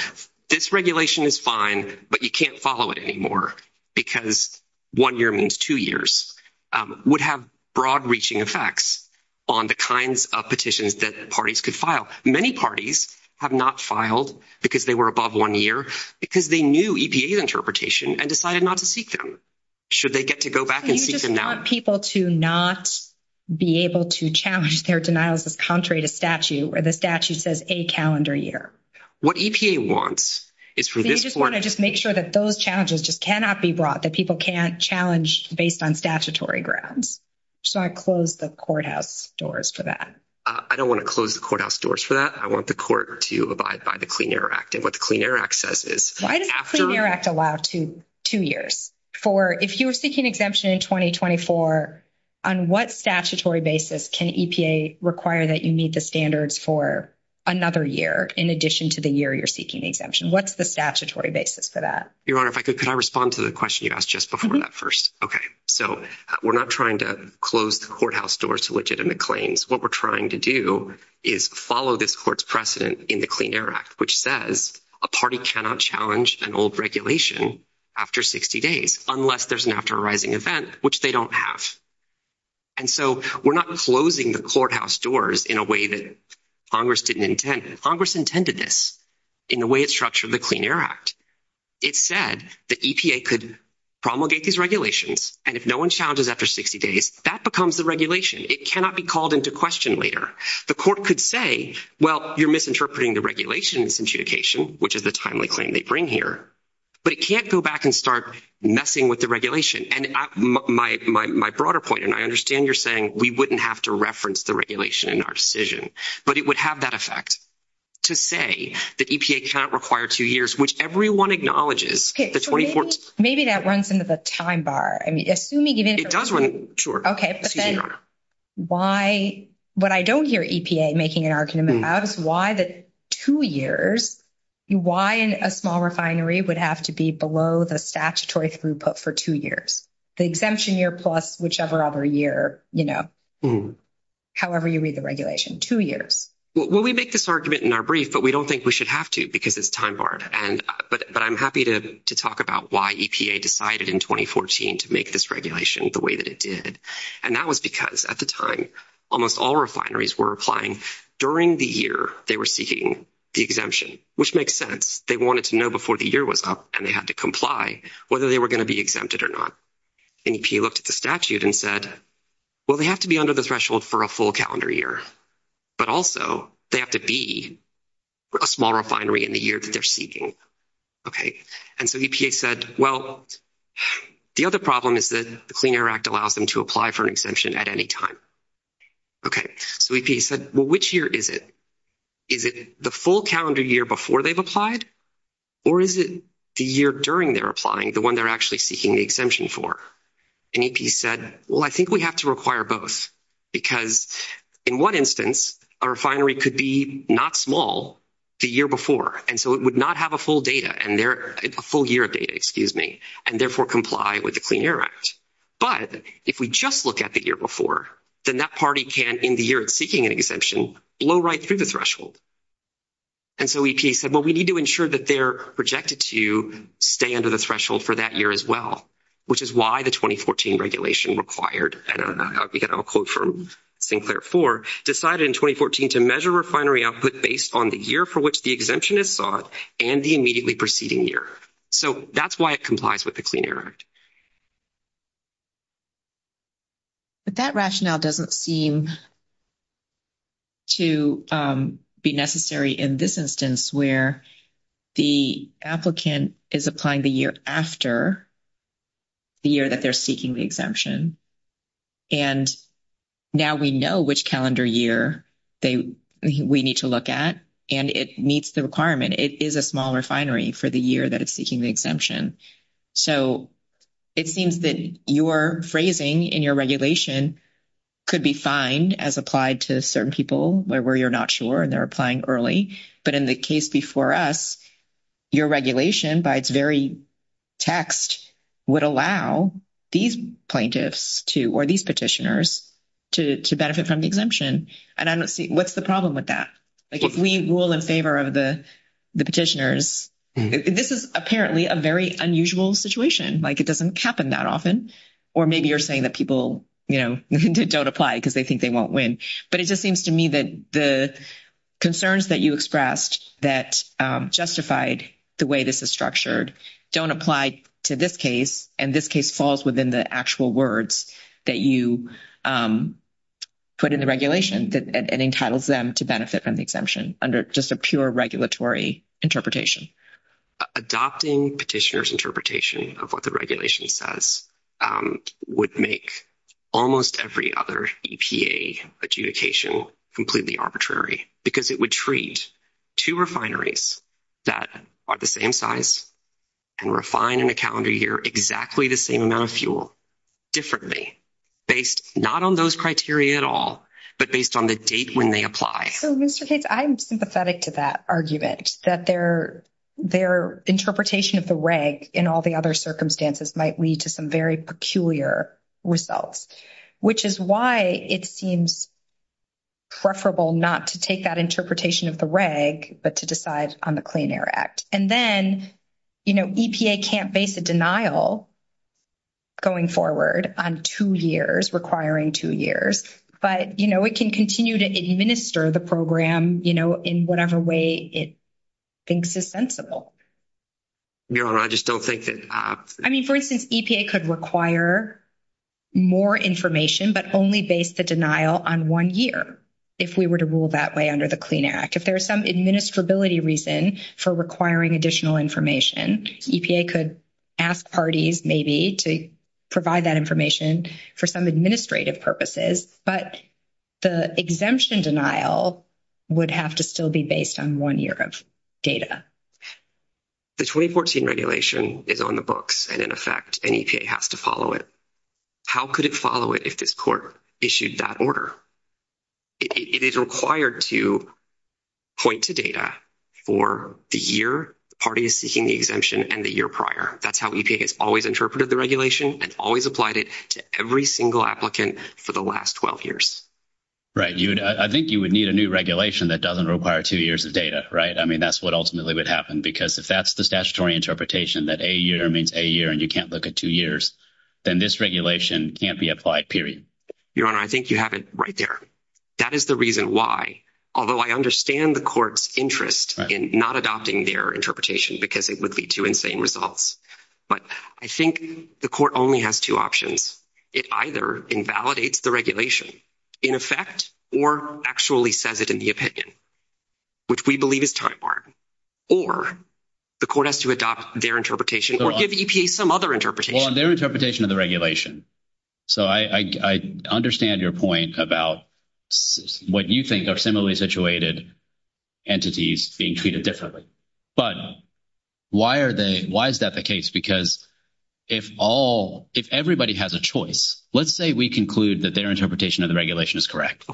this regulation is fine, but you can't follow it anymore because one year means two years. It would have broad-reaching effects on the kinds of petitions that parties could file. Many parties have not filed because they were above one year because they knew EPA's interpretation and decided not to seek them, should they get to go back and seek them now. So you want people to not be able to challenge their denials of contrary to statute where the statute says a calendar year. What EPA wants is for this one— So you just want to make sure that those challenges just cannot be brought, that people can't challenge based on statutory grounds. So I close the courthouse doors for that. I don't want to close the courthouse doors for that. I want the court to abide by the Clean Air Act. And what the Clean Air Act says is— What does the Clean Air Act allow for two years? If you were seeking exemption in 2024, on what statutory basis can EPA require that you meet the standards for another year in addition to the year you're seeking the exemption? What's the statutory basis for that? Your Honor, could I respond to the question you asked just before that first? Okay. So we're not trying to close the courthouse doors to liquidate the claims. What we're trying to do is follow this court's precedent in the Clean Air Act, which says a party cannot challenge an old regulation after 60 days unless there's an after arising event, which they don't have. And so we're not closing the courthouse doors in a way that Congress didn't intend. Congress intended this in the way it's structured in the Clean Air Act. It said that EPA could promulgate these regulations, and if no one challenges after 60 days, that becomes the regulation. It cannot be called into question later. The court could say, well, you're misinterpreting the regulations in adjudication, which is a timely claim they bring here. But it can't go back and start messing with the regulation. And my broader point, and I understand you're saying we wouldn't have to reference the regulation in our decision, but it would have that effect to say that EPA cannot require two years, which everyone acknowledges. So maybe that runs into the time bar. I mean, assuming it is— It does run—sure. Okay. Excuse me, Your Honor. Why—what I don't hear EPA making an argument about is why the two years, why a small refinery would have to be below the statutory throughput for two years, the exemption year plus whichever other year, you know, however you read the regulation, two years. Well, we make this argument in our brief, but we don't think we should have to because it's time barred. But I'm happy to talk about why EPA decided in 2014 to make this regulation the way that it did. And that was because at the time almost all refineries were applying during the year they were seeking the exemption, which makes sense. They wanted to know before the year was up, and they had to comply whether they were going to be exempted or not. And EPA looked at the statute and said, well, they have to be under the threshold for a full calendar year, but also they have to be a small refinery in the year that they're seeking. Okay. And so EPA said, well, the other problem is that the Clean Air Act allows them to apply for an exemption at any time. Okay. So EPA said, well, which year is it? Is it the full calendar year before they've applied, or is it the year during they're applying, the one they're actually seeking the exemption for? And EPA said, well, I think we have to require both because in one instance, a refinery could be not small the year before, and so it would not have a full year of data and therefore comply with the Clean Air Act. But if we just look at the year before, then that party can, in the year of seeking an exemption, blow right through the threshold. And so EPA said, well, we need to ensure that they're projected to stay under the threshold for that year as well, which is why the 2014 regulation required, and again, I'll quote from Sinclair 4, decided in 2014 to measure refinery output based on the year for which the exemption is sought and the immediately preceding year. So that's why it complies with the Clean Air Act. But that rationale doesn't seem to be necessary in this instance where the applicant is applying the year after the year that they're seeking the exemption. And now we know which calendar year we need to look at, and it meets the requirement. It is a small refinery for the year that it's seeking the exemption. So it seems that your phrasing in your regulation could be fined as applied to certain people where you're not sure and they're applying early. But in the case before us, your regulation by its very text would allow these plaintiffs to, or these petitioners, to benefit from the exemption. And I don't see, what's the problem with that? Like, if we rule in favor of the petitioners, this is apparently a very unusual situation. Like, it doesn't happen that often. Or maybe you're saying that people, you know, don't apply because they think they won't win. But it just seems to me that the concerns that you expressed that justified the way this is structured don't apply to this case, and this case falls within the actual words that you put in the regulation that entitles them to benefit from the exemption under just a pure regulatory interpretation. Adopting petitioners' interpretation of what the regulation says would make almost every other EPA adjudication completely arbitrary, because it would treat two refineries that are the same size and refine in a calendar year exactly the same amount of fuel differently, based not on those criteria at all, but based on the date when they apply. So, Mr. Tate, I'm sympathetic to that argument, that their interpretation of the reg in all the other circumstances might lead to some very peculiar results, which is why it seems preferable not to take that interpretation of the reg, but to decide on the Clean Air Act. And then, you know, EPA can't base a denial going forward on two years, requiring two years. But, you know, it can continue to administer the program, you know, in whatever way it thinks is sensible. No, I just don't think that... I mean, for instance, EPA could require more information, but only base the denial on one year, if we were to rule that way under the Clean Air Act. If there's some administrability reason for requiring additional information, EPA could ask parties maybe to provide that information for some administrative purposes, but the exemption denial would have to still be based on one year of data. The 2014 regulation is on the books, and in effect, an EPA has to follow it. How could it follow it if this court issued that order? It is required to point to data for the year parties seeking the exemption and the year prior. That's how EPA has always interpreted the regulation and always applied it to every single applicant for the last 12 years. Right. I think you would need a new regulation that doesn't require two years of data, right? I mean, that's what ultimately would happen, because if that's the statutory interpretation, that a year means a year and you can't look at two years, then this regulation can't be applied, period. Your Honor, I think you have it right there. That is the reason why, although I understand the court's interest in not adopting their interpretation, because it would lead to insane results, but I think the court only has two options. It either invalidates the regulation in effect or actually says it in the opinion, which we believe is time-barred, or the court has to adopt their interpretation or give EPA some other interpretation. Well, on their interpretation of the regulation, so I understand your point about what you think are similarly situated entities being treated differently, but why is that the case? Because if everybody has a choice, let's say we conclude that their interpretation of the regulation is correct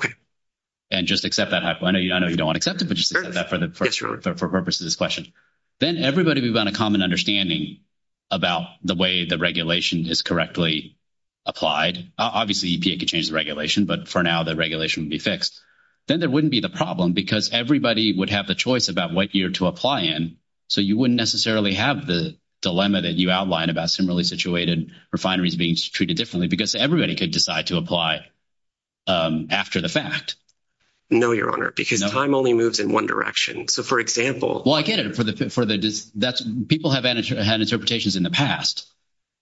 and just accept that, I know you don't want to accept it, but just accept that for the purpose of this question, then everybody would have a common understanding about the way the regulation is correctly applied. Obviously, EPA could change the regulation, but for now the regulation would be fixed. Then there wouldn't be the problem because everybody would have the choice about what year to apply in, so you wouldn't necessarily have the dilemma that you outlined about similarly situated refineries being treated differently because everybody could decide to apply after the fact. No, Your Honor, because time only moves in one direction. Well, I get it. People have had interpretations in the past,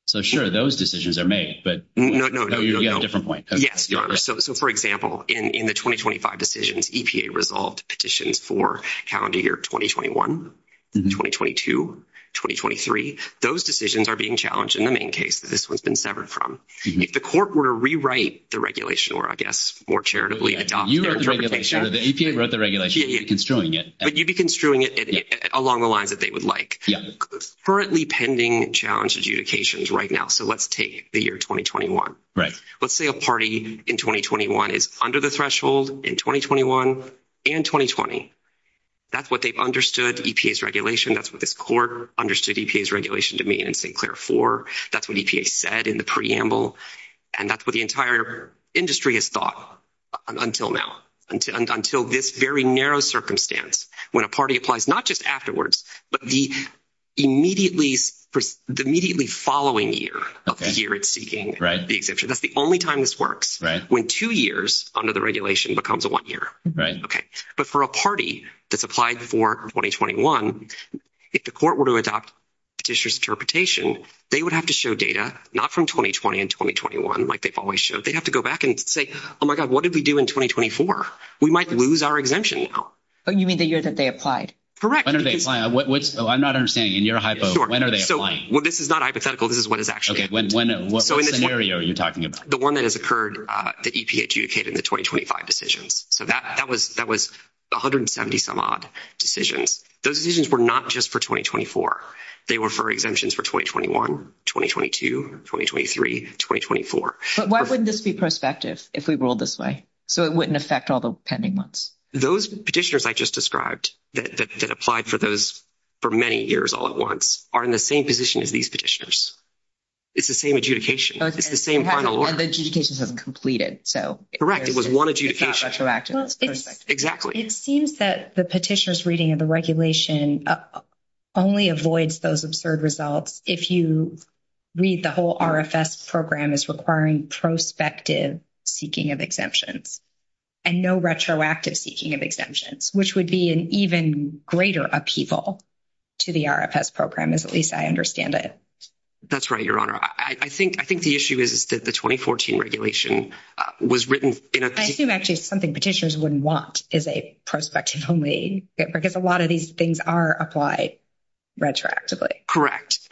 so sure, those decisions are made, but you have a different point. Yes, Your Honor. So, for example, in the 2025 decisions, EPA resolved petitions for calendar year 2021, 2022, 2023. Those decisions are being challenged in the main case that this one's been severed from. If the court were to rewrite the regulation or, I guess, more charitably adopt their interpretation— But you'd be construing it along the lines that they would like. Currently pending challenge adjudications right now, so let's take the year 2021. Right. Let's say a party in 2021 is under the threshold in 2021 and 2020. That's what they've understood EPA's regulation. That's what this court understood EPA's regulation to mean in Sinclair IV. That's what EPA said in the preamble, and that's what the entire industry has thought until now, until this very narrow circumstance when a party applies not just afterwards, but the immediately following year of the year it's seeking the exemption. That's the only time this works, when two years under the regulation becomes one year. Right. Okay. But for a party that's applied for 2021, if the court were to adopt Petitioner's interpretation, they would have to show data not from 2020 and 2021 like they've always showed. They'd have to go back and say, oh, my God, what did we do in 2024? We might lose our exemption now. Oh, you mean the year that they applied? Correct. When are they applying? Oh, I'm not understanding, and you're a hypo. Sure. When are they applying? Well, this is not hypothetical. This is what it's actually. Okay. What scenario are you talking about? The one that has occurred that EPA adjudicated in the 2025 decisions. So that was 170-some-odd decisions. Those decisions were not just for 2024. They were for exemptions for 2021, 2022, 2023, 2024. But why wouldn't this be prospective if we ruled this way? So it wouldn't affect all the pending ones. Those petitioners I just described that applied for those for many years all at once are in the same position as these petitioners. It's the same adjudication. It's the same final. Okay. And the adjudications haven't completed, so. Correct. It was one adjudication. It's retroactive. Exactly. It seems that the petitioner's reading of the regulation only avoids those absurd results if you read the whole RFS program as requiring prospective seeking of exemptions and no retroactive seeking of exemptions, which would be an even greater upheaval to the RFS program, as at least I understand it. That's right, Your Honor. I think the issue is that the 2014 regulation was written in a. I assume actually something petitioners wouldn't want is a prospective only, because a lot of these things are applied retroactively.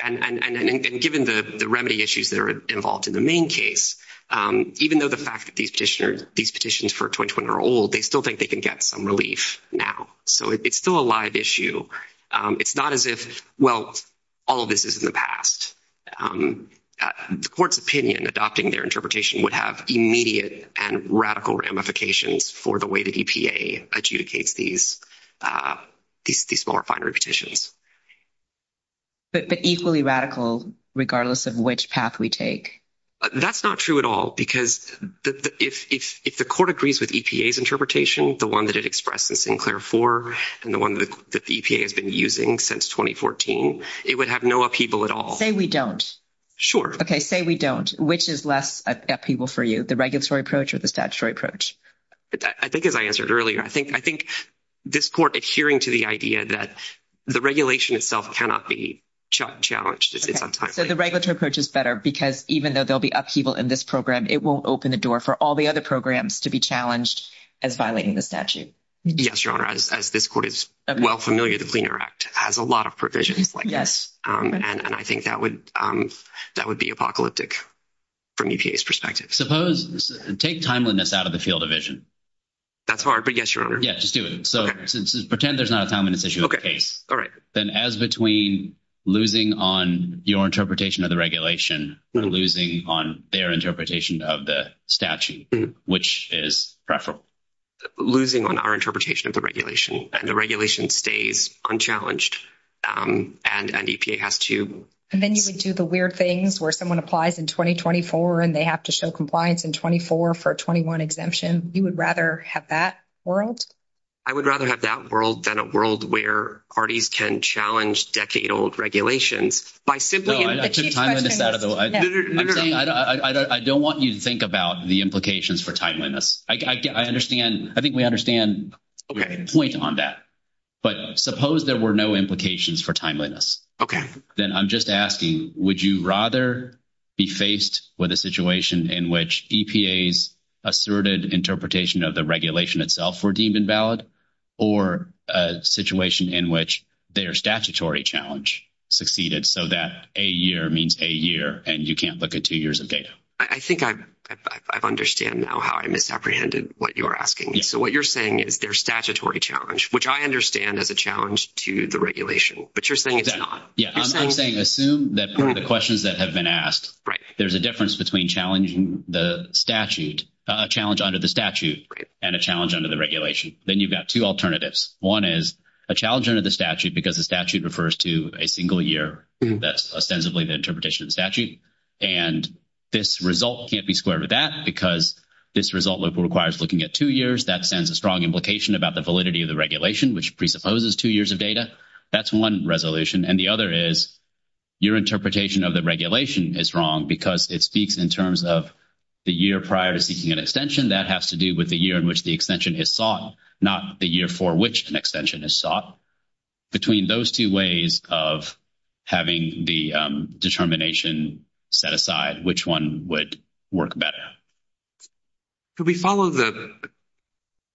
And given the remedy issues that are involved in the main case, even though the fact that these petitioners, these petitions for 2021 are old, they still think they can get some relief now. So it's still a live issue. It's not as if, well, all of this is in the past. The court's opinion adopting their interpretation would have immediate and radical ramifications for the way that EPA adjudicates these more refinery petitions. But equally radical, regardless of which path we take. That's not true at all, because if the court agrees with EPA's interpretation, the one that it expressed in Sinclair 4, and the one that the EPA has been using since 2014, it would have no upheaval at all. Say we don't. Sure. Okay, say we don't. Which is less upheaval for you, the regulatory approach or the statutory approach? I think as I answered earlier, I think this court adhering to the idea that the regulation itself cannot be challenged. So the regulatory approach is better, because even though there will be upheaval in this program, it will open the door for all the other programs to be challenged as violating the statute. Yes, Your Honor, as this court is well familiar with the Liener Act, it has a lot of provisions like this. And I think that would be apocalyptic from EPA's perspective. Suppose, take timeliness out of the field of vision. That's hard, but yes, Your Honor. Yes, just do it. Pretend there's not a timeliness issue. Okay. All right. Then as between losing on your interpretation of the regulation, losing on their interpretation of the statute, which is preferable? Losing on our interpretation of the regulation, and the regulation stays unchallenged, and EPA has to. And then you would do the weird things where someone applies in 2024, and they have to show compliance in 24 for a 21 exemption. You would rather have that world? I would rather have that world than a world where parties can challenge decade-old regulations. I don't want you to think about the implications for timeliness. I think we understand the point on that. But suppose there were no implications for timeliness. Okay. Then I'm just asking, would you rather be faced with a situation in which EPA's asserted interpretation of the regulation itself were deemed invalid, or a situation in which their statutory challenge succeeded so that a year means a year and you can't look at two years of data? I think I understand now how I misapprehended what you were asking. So what you're saying is their statutory challenge, which I understand is a challenge to the regulation, but you're saying it's not. I'm saying assume that for the questions that have been asked, there's a difference between challenging the statute, a challenge under the statute, and a challenge under the regulation. Then you've got two alternatives. One is a challenge under the statute because the statute refers to a single year. That's ostensibly the interpretation of the statute. And this result can't be squared with that because this result requires looking at two years. That sends a strong implication about the validity of the regulation, which presupposes two years of data. That's one resolution. And the other is your interpretation of the regulation is wrong because it speaks in terms of the year prior to seeking an extension. That has to do with the year in which the extension is sought, not the year for which an extension is sought. Between those two ways of having the determination set aside, which one would work better? Could we follow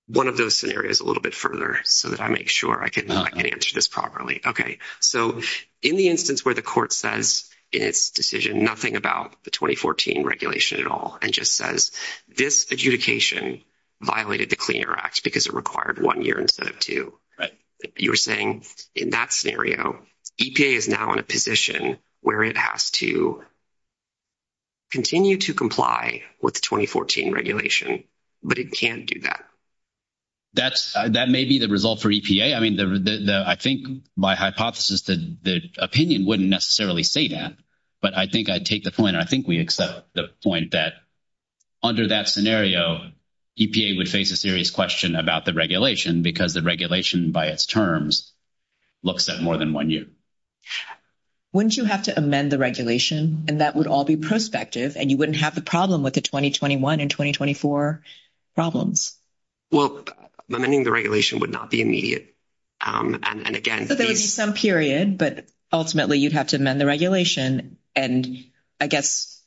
one of those scenarios a little bit further so that I make sure I can answer this properly? Okay. So in the instance where the court says in its decision nothing about the 2014 regulation at all and just says this adjudication violated the Clean Air Act because it required one year instead of two, you're saying in that scenario EPA is now in a position where it has to continue to comply with the 2014 regulation, but it can't do that. That may be the result for EPA. I mean, I think by hypothesis the opinion wouldn't necessarily say that, but I think I'd take the point. I think we accept the point that under that scenario EPA would face a serious question about the regulation because the regulation by its terms looks at more than one year. Wouldn't you have to amend the regulation and that would all be prospective and you wouldn't have the problem with the 2021 and 2024 problems? Well, amending the regulation would not be immediate. But there would be some period, but ultimately you'd have to amend the regulation. And I guess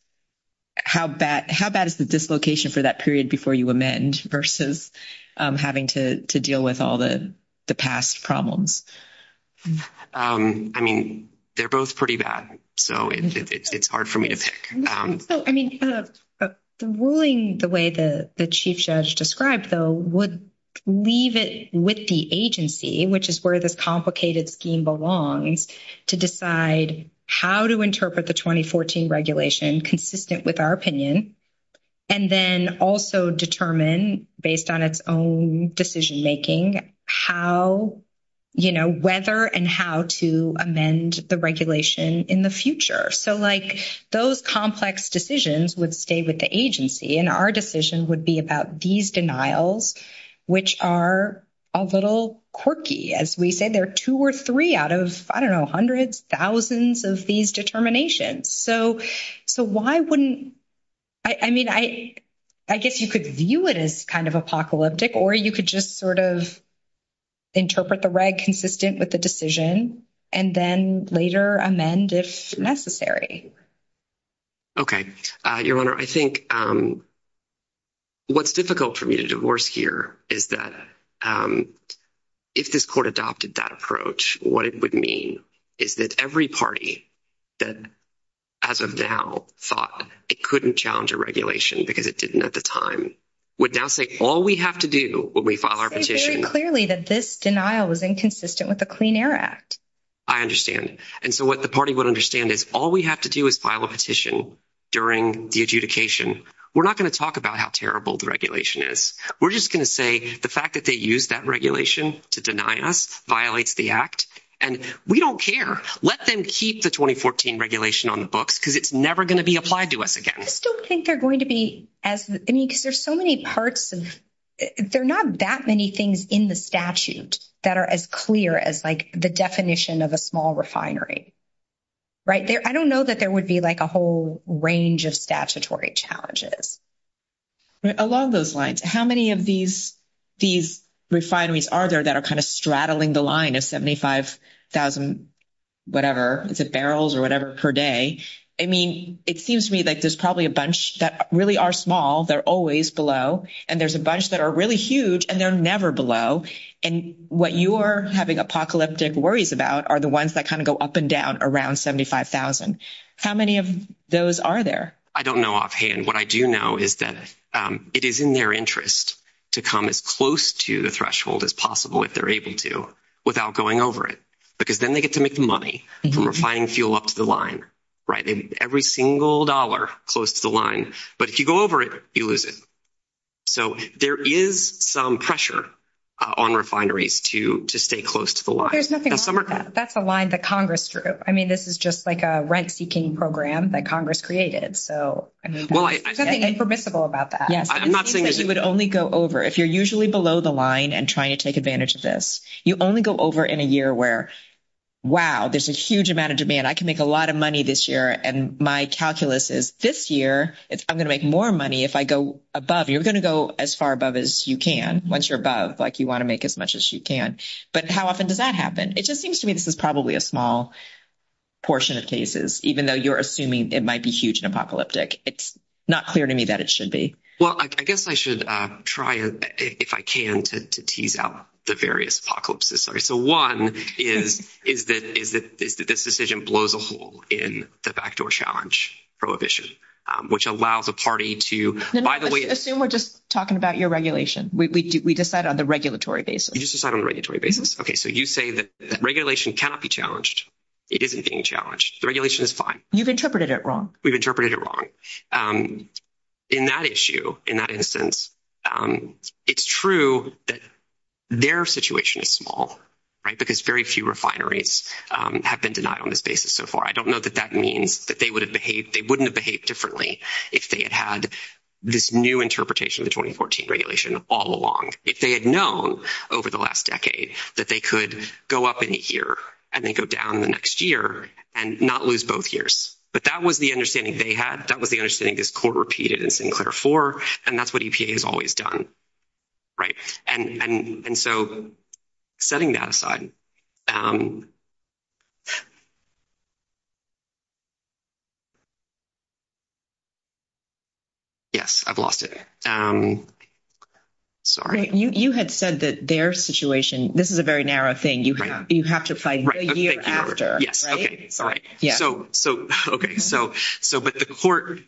how bad is the dislocation for that period before you amend versus having to deal with all the past problems? I mean, they're both pretty bad, so it's hard for me to pick. I mean, the ruling the way the Chief Judge described, though, would leave it with the agency, which is where this complicated scheme belongs, to decide how to interpret the 2014 regulation consistent with our opinion and then also determine based on its own decision making how, you know, whether and how to amend the regulation in the future. So, like, those complex decisions would stay with the agency and our decision would be about these denials, which are a little quirky. As we said, there are two or three out of, I don't know, hundreds, thousands of these determinations. So why wouldn't, I mean, I guess you could view it as kind of apocalyptic or you could just sort of interpret the reg consistent with the decision and then later amend if necessary. Okay. Your Honor, I think what's difficult for me to divorce here is that if this court adopted that approach, what it would mean is that every party that as of now thought it couldn't challenge a regulation because it didn't at the time would now say all we have to do when we file our petition. It's very clearly that this denial is inconsistent with the Clean Air Act. I understand. And so what the party would understand is all we have to do is file a petition during the adjudication. We're not going to talk about how terrible the regulation is. We're just going to say the fact that they used that regulation to deny us violates the act and we don't care. Let them keep the 2014 regulation on the books because it's never going to be applied to us again. I just don't think they're going to be as, I mean, because there's so many parts of, there are not that many things in the statute that are as clear as like the definition of a small refinery, right? I don't know that there would be like a whole range of statutory challenges. Along those lines, how many of these refineries are there that are kind of straddling the line of 75,000 whatever, is it barrels or whatever per day? I mean, it seems to me like there's probably a bunch that really are small. They're always below. And there's a bunch that are really huge and they're never below. And what you are having apocalyptic worries about are the ones that kind of go up and down around 75,000. How many of those are there? I don't know offhand. What I do know is that it is in their interest to come as close to the threshold as possible, if they're able to, without going over it, because then they get to make money from refining fuel up to the line, right? Every single dollar close to the line. But if you go over it, you lose it. So there is some pressure on refineries to stay close to the line. There's nothing wrong with that. That's a line that Congress drew. I mean, this is just like a rent-seeking program that Congress created. There's nothing impermissible about that. You would only go over. If you're usually below the line and trying to take advantage of this, you only go over in a year where, wow, there's a huge amount of demand. I can make a lot of money this year, and my calculus is this year I'm going to make more money if I go above. You're going to go as far above as you can. Once you're above, like, you want to make as much as you can. But how often does that happen? It just seems to me this is probably a small portion of cases, even though you're assuming it might be huge and apocalyptic. It's not clear to me that it should be. Well, I guess I should try, if I can, to tease out the various apocalypses. So one is that this decision blows a hole in the backdoor challenge prohibition, which allows a party to— No, no. Assume we're just talking about your regulation. We decide on the regulatory basis. You just decide on the regulatory basis. Okay. So you say that regulation cannot be challenged. It isn't being challenged. The regulation is fine. You've interpreted it wrong. We've interpreted it wrong. In that issue, in that instance, it's true that their situation is small, right, because very few refineries have been denied on this basis so far. I don't know that that means that they would have behaved—they wouldn't have behaved differently if they had had this new interpretation of the 2014 regulation all along, if they had known over the last decade that they could go up in a year and then go down in the next year and not lose both years. But that was the understanding they had. That was the understanding this court repeated in Senate 104, and that's what EPA has always done, right? And so setting that aside—yes, I've lost it. Sorry. You had said that their situation—this is a very narrow thing. You have to find the year after, right? Okay, fine. Okay, so—but the court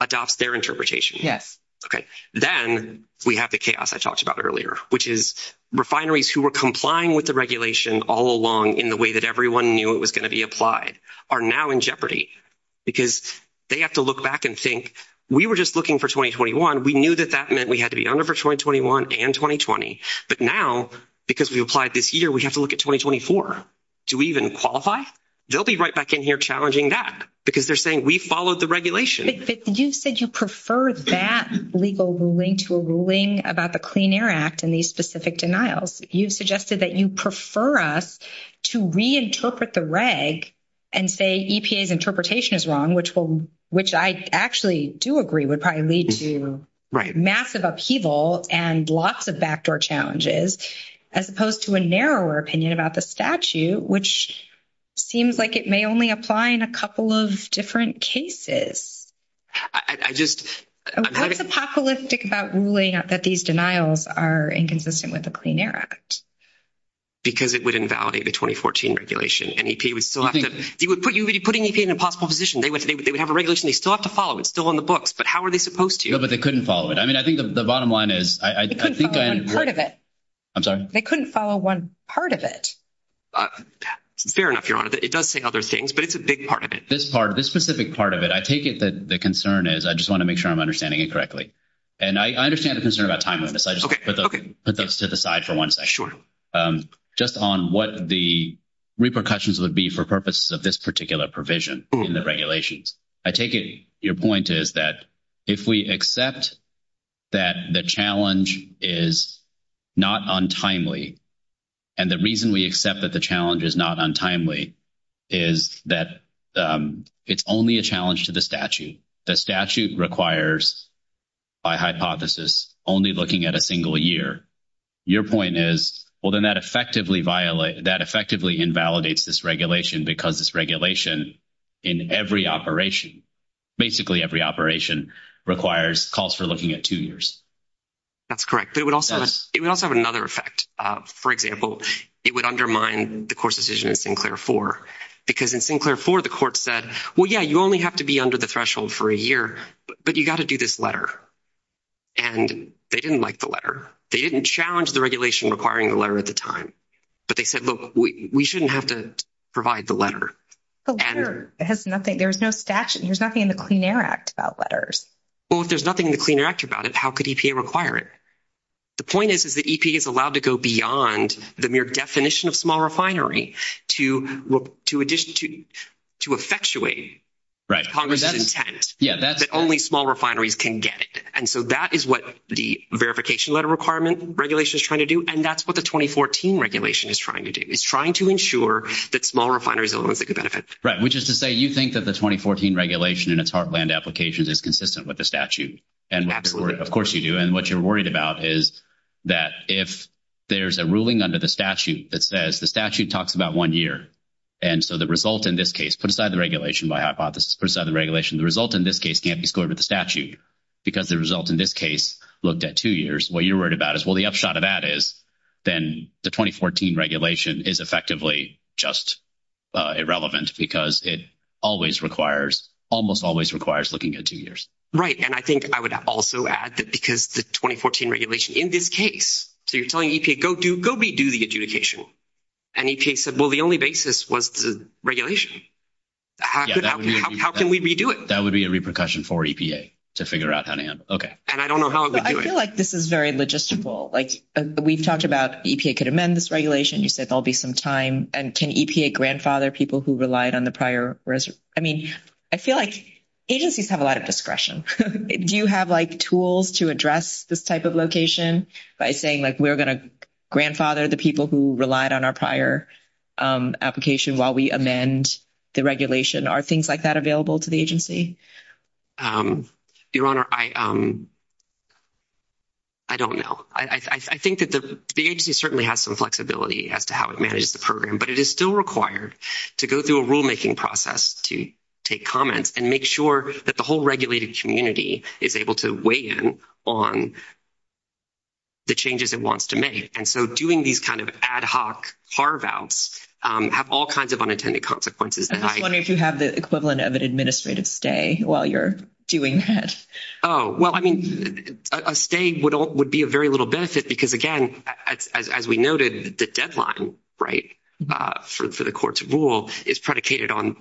adopts their interpretation. Yes. Okay. Then we have the chaos I talked about earlier, which is refineries who were complying with the regulation all along in the way that everyone knew it was going to be applied are now in jeopardy because they have to look back and think, we were just looking for 2021. We knew that that meant we had to be under for 2021 and 2020. But now, because we applied this year, we have to look at 2024. Do we even qualify? They'll be right back in here challenging that because they're saying, we followed the regulation. You said you prefer that legal ruling to a ruling about the Clean Air Act and these specific denials. You suggested that you prefer us to reinterpret the reg and say EPA's interpretation is wrong, which I actually do agree would probably lead to massive upheaval and lots of backdoor challenges, as opposed to a narrower opinion about the statute, which seems like it may only apply in a couple of different cases. I just— What's apocalyptic about ruling out that these denials are inconsistent with the Clean Air Act? Because it would invalidate the 2014 regulation, and EPA would still have to— You would be putting EPA in a possible position. They would have a regulation they still have to follow. It's still in the books. But how are they supposed to? No, but they couldn't follow it. I mean, I think the bottom line is— They couldn't follow one part of it. I'm sorry? They couldn't follow one part of it. Fair enough, Your Honor. It does say other things, but it's a big part of it. This part, this specific part of it, I take it that the concern is— I just want to make sure I'm understanding it correctly. And I understand the concern about timeliness. I just want to put those to the side for one second. Sure. Just on what the repercussions would be for purposes of this particular provision in the regulations. I take it your point is that if we accept that the challenge is not untimely, and the reason we accept that the challenge is not untimely is that it's only a challenge to the statute. The statute requires, by hypothesis, only looking at a single year. Your point is, well, then that effectively invalidates this regulation because this regulation in every operation, basically every operation, requires calls for looking at two years. That's correct. But it would also have another effect. For example, it would undermine the court's decision in Sinclair 4, because in Sinclair 4, the court said, well, yeah, you only have to be under the threshold for a year, but you've got to do this letter. And they didn't like the letter. They didn't challenge the regulation requiring a letter at the time. But they said, look, we shouldn't have to provide the letter. The letter has nothing. There's no statute. There's nothing in the Clean Air Act about letters. Well, if there's nothing in the Clean Air Act about it, how could EPA require it? The point is, is that EPA is allowed to go beyond the mere definition of small refinery to effectuate Congress's intent that only small refineries can get it. And so that is what the verification letter requirement regulation is trying to do, and that's what the 2014 regulation is trying to do. It's trying to ensure that small refineries are the ones that get benefits. Right, which is to say you think that the 2014 regulation in its heartland applications is consistent with the statute. Absolutely. Of course you do. And what you're worried about is that if there's a ruling under the statute that says the statute talks about one year, and so the result in this case, put aside the regulation by hypothesis, put aside the regulation, the result in this case can't be scored with the statute because the result in this case looked at two years. What you're worried about is, well, the upshot of that is then the 2014 regulation is effectively just irrelevant because it almost always requires looking at two years. Right, and I think I would also add that because the 2014 regulation in this case, so you're telling EPA, go redo the adjudication. And EPA said, well, the only basis was the regulation. How can we redo it? That would be a repercussion for EPA to figure out how to handle it. And I don't know how it would do it. I feel like this is very logistical. Like, we've talked about EPA could amend this regulation. You said there'll be some time. And can EPA grandfather people who relied on the prior? I mean, I feel like agencies have a lot of discretion. Do you have, like, tools to address this type of location by saying, like, we're going to grandfather the people who relied on our prior application while we amend the regulation? Are things like that available to the agency? Your Honor, I don't know. I think that the agency certainly has some flexibility as to how it manages the program, but it is still required to go through a rulemaking process to take comments and make sure that the whole regulated community is able to weigh in on the changes it wants to make. And so doing these kind of ad hoc carve-outs have all kinds of unintended consequences. I was wondering if you have the equivalent of an administrative stay while you're doing this. Oh, well, I mean, a stay would be of very little benefit because, again, as we noted, the deadline, right, for the court's rule is predicated on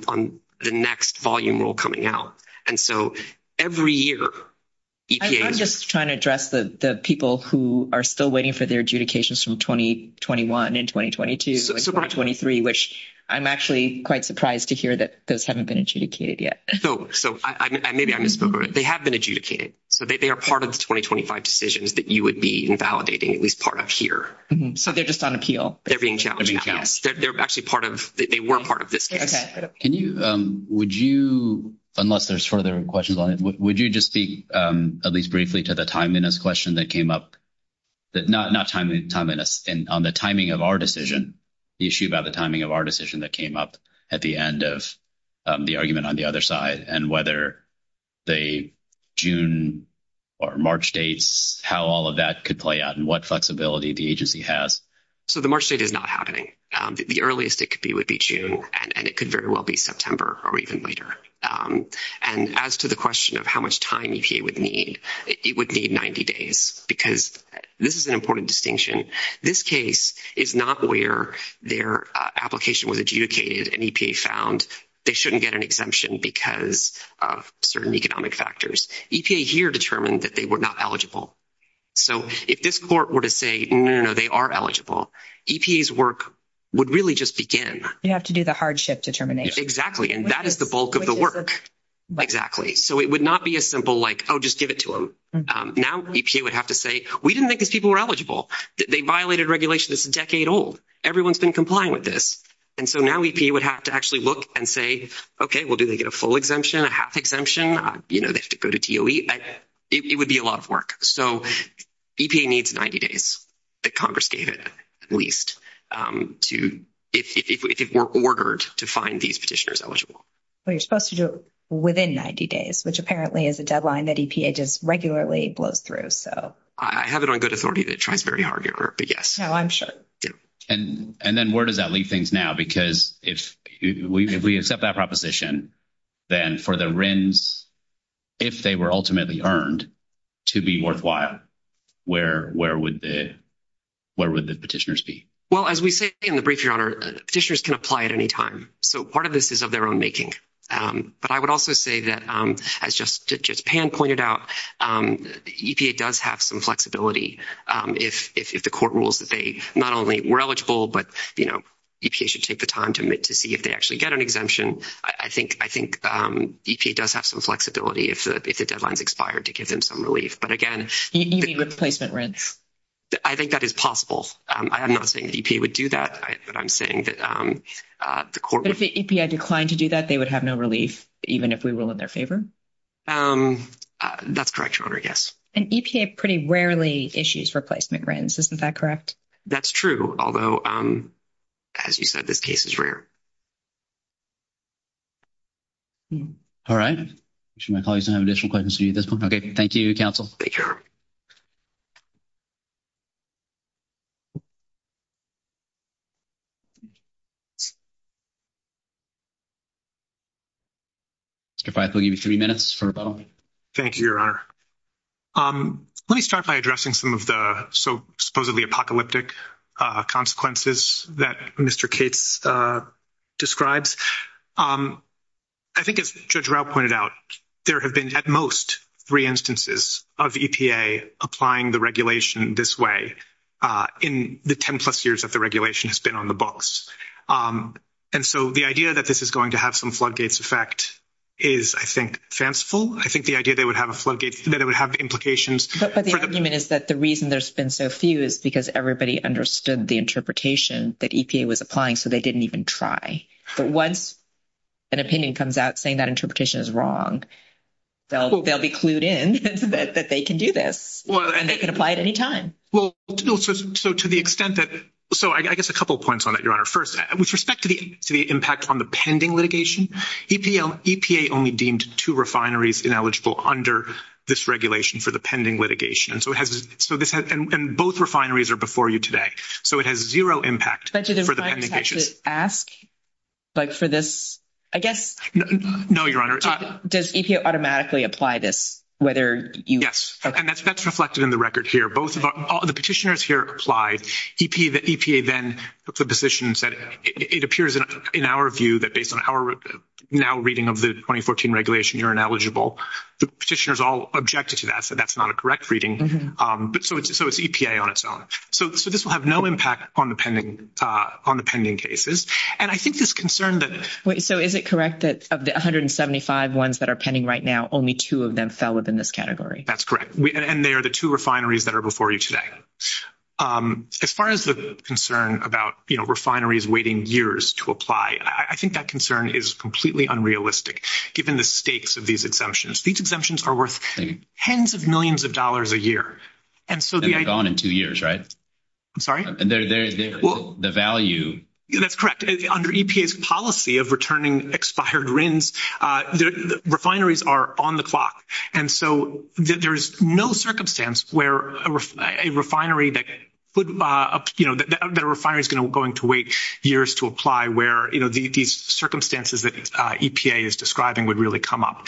the next volume rule coming out. And so every year EPA— I'm just trying to address the people who are still waiting for their adjudications from 2021 and 2022 and 2023, which I'm actually quite surprised to hear that those haven't been adjudicated yet. So maybe I misspoke. They have been adjudicated. They are part of the 2025 decisions that you would be validating, at least part of here. So they're just on appeal. They're being challenged. They're being challenged. They're actually part of—they were part of this case. Can you—would you—unless there's further questions on it, would you just speak at least briefly to the timeliness question that came up? Not timeliness. On the timing of our decision, the issue about the timing of our decision that came up at the end of the argument on the other side and whether, say, June or March dates, how all of that could play out and what flexibility the agency has. So the March date is not happening. The earliest it could be would be June, and it could very well be September or even later. And as to the question of how much time EPA would need, it would need 90 days because this is an important distinction. This case is not where their application was adjudicated and EPA found they shouldn't get an exemption because of certain economic factors. EPA here determined that they were not eligible. So if this court were to say, no, no, no, they are eligible, EPA's work would really just begin. You have to do the hardship determination. Exactly, and that is the bulk of the work. So it would not be as simple like, oh, just give it to them. Now EPA would have to say, we didn't think these people were eligible. They violated regulation that's a decade old. Everyone's been complying with this. And so now EPA would have to actually look and say, okay, well, do they get a full exemption, a half exemption? You know, they have to go to DOE. It would be a lot of work. So EPA needs 90 days that Congress gave it, at least, if it were ordered to find these petitioners eligible. But you're supposed to do it within 90 days, which apparently is a deadline that EPA just regularly blows through. I have it on good authority that it tries very hard to get it, but yes. No, I'm sure. And then where does that leave things now? Because if we accept that proposition, then for the RINs, if they were ultimately earned, to be worthwhile, where would the petitioners be? Well, as we say in the brief, Your Honor, petitioners can apply at any time. So part of this is of their own making. But I would also say that, as just Pam pointed out, EPA does have some flexibility. If the court rules that they not only were eligible, but, you know, EPA should take the time to see if they actually get an exemption, I think EPA does have some flexibility if the deadline's expired to give them some relief. But again- You mean with placement RINs? I think that is possible. I'm not saying EPA would do that, but I'm saying that the court would- If the EPA declined to do that, they would have no relief, even if we rule in their favor? That's correct, Your Honor, yes. And EPA pretty rarely issues replacement RINs, isn't that correct? That's true, although, as you said, this case is rare. All right. I'm sure my colleagues don't have additional questions to you at this point. Okay, thank you, counsel. Take care. Mr. Feith, I'll give you three minutes for a follow-up. Thank you, Your Honor. Let me start by addressing some of the supposedly apocalyptic consequences that Mr. Cates described. I think, as Judge Rao pointed out, there have been, at most, three instances of EPA applying the regulation this way in the 10-plus years that the regulation has been on the books. And so the idea that this is going to have some floodgates effect is, I think, fanciful. I think the idea that it would have implications- But the argument is that the reason there's been so few is because everybody understood the interpretation that EPA was applying, so they didn't even try. But once an opinion comes out saying that interpretation is wrong, they'll be clued in that they can do this, and they can apply it any time. So to the extent that- So I guess a couple of points on that, Your Honor. First, with respect to the impact on the pending litigation, EPA only deemed two refineries ineligible under this regulation for the pending litigation. And both refineries are before you today. So it has zero impact for the pending litigation. Judge, do I have to ask, like, for this- I guess- No, Your Honor. Does EPA automatically apply this, whether you- Yes. And that's reflected in the record here. The petitioners here applied. EPA then took the position and said, it appears in our view that based on our now reading of the 2014 regulation, you're ineligible. The petitioners all objected to that, said that's not a correct reading. So it's EPA on its own. So this will have no impact on the pending cases. And I think this concern that- Wait, so is it correct that of the 175 ones that are pending right now, only two of them fell within this category? That's correct. And they are the two refineries that are before you today. As far as the concern about, you know, refineries waiting years to apply, I think that concern is completely unrealistic, given the stakes of these exemptions. These exemptions are worth tens of millions of dollars a year. And so the idea- They're gone in two years, right? I'm sorry? The value- That's correct. Under EPA's policy of returning expired RINs, the refineries are on the clock. And so there is no circumstance where a refinery that, you know, the refinery is going to wait years to apply where, you know, these circumstances that EPA is describing would really come up.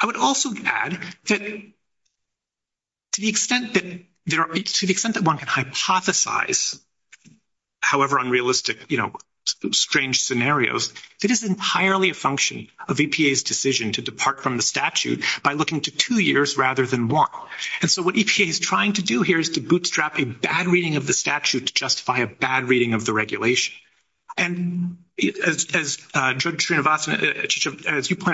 I would also add that to the extent that one can hypothesize however unrealistic, you know, strange scenarios, it is entirely a function of EPA's decision to depart from the statute by looking to two years rather than one. And so what EPA is trying to do here is to bootstrap a bad reading of the statute to justify a bad reading of the regulation. And as you pointed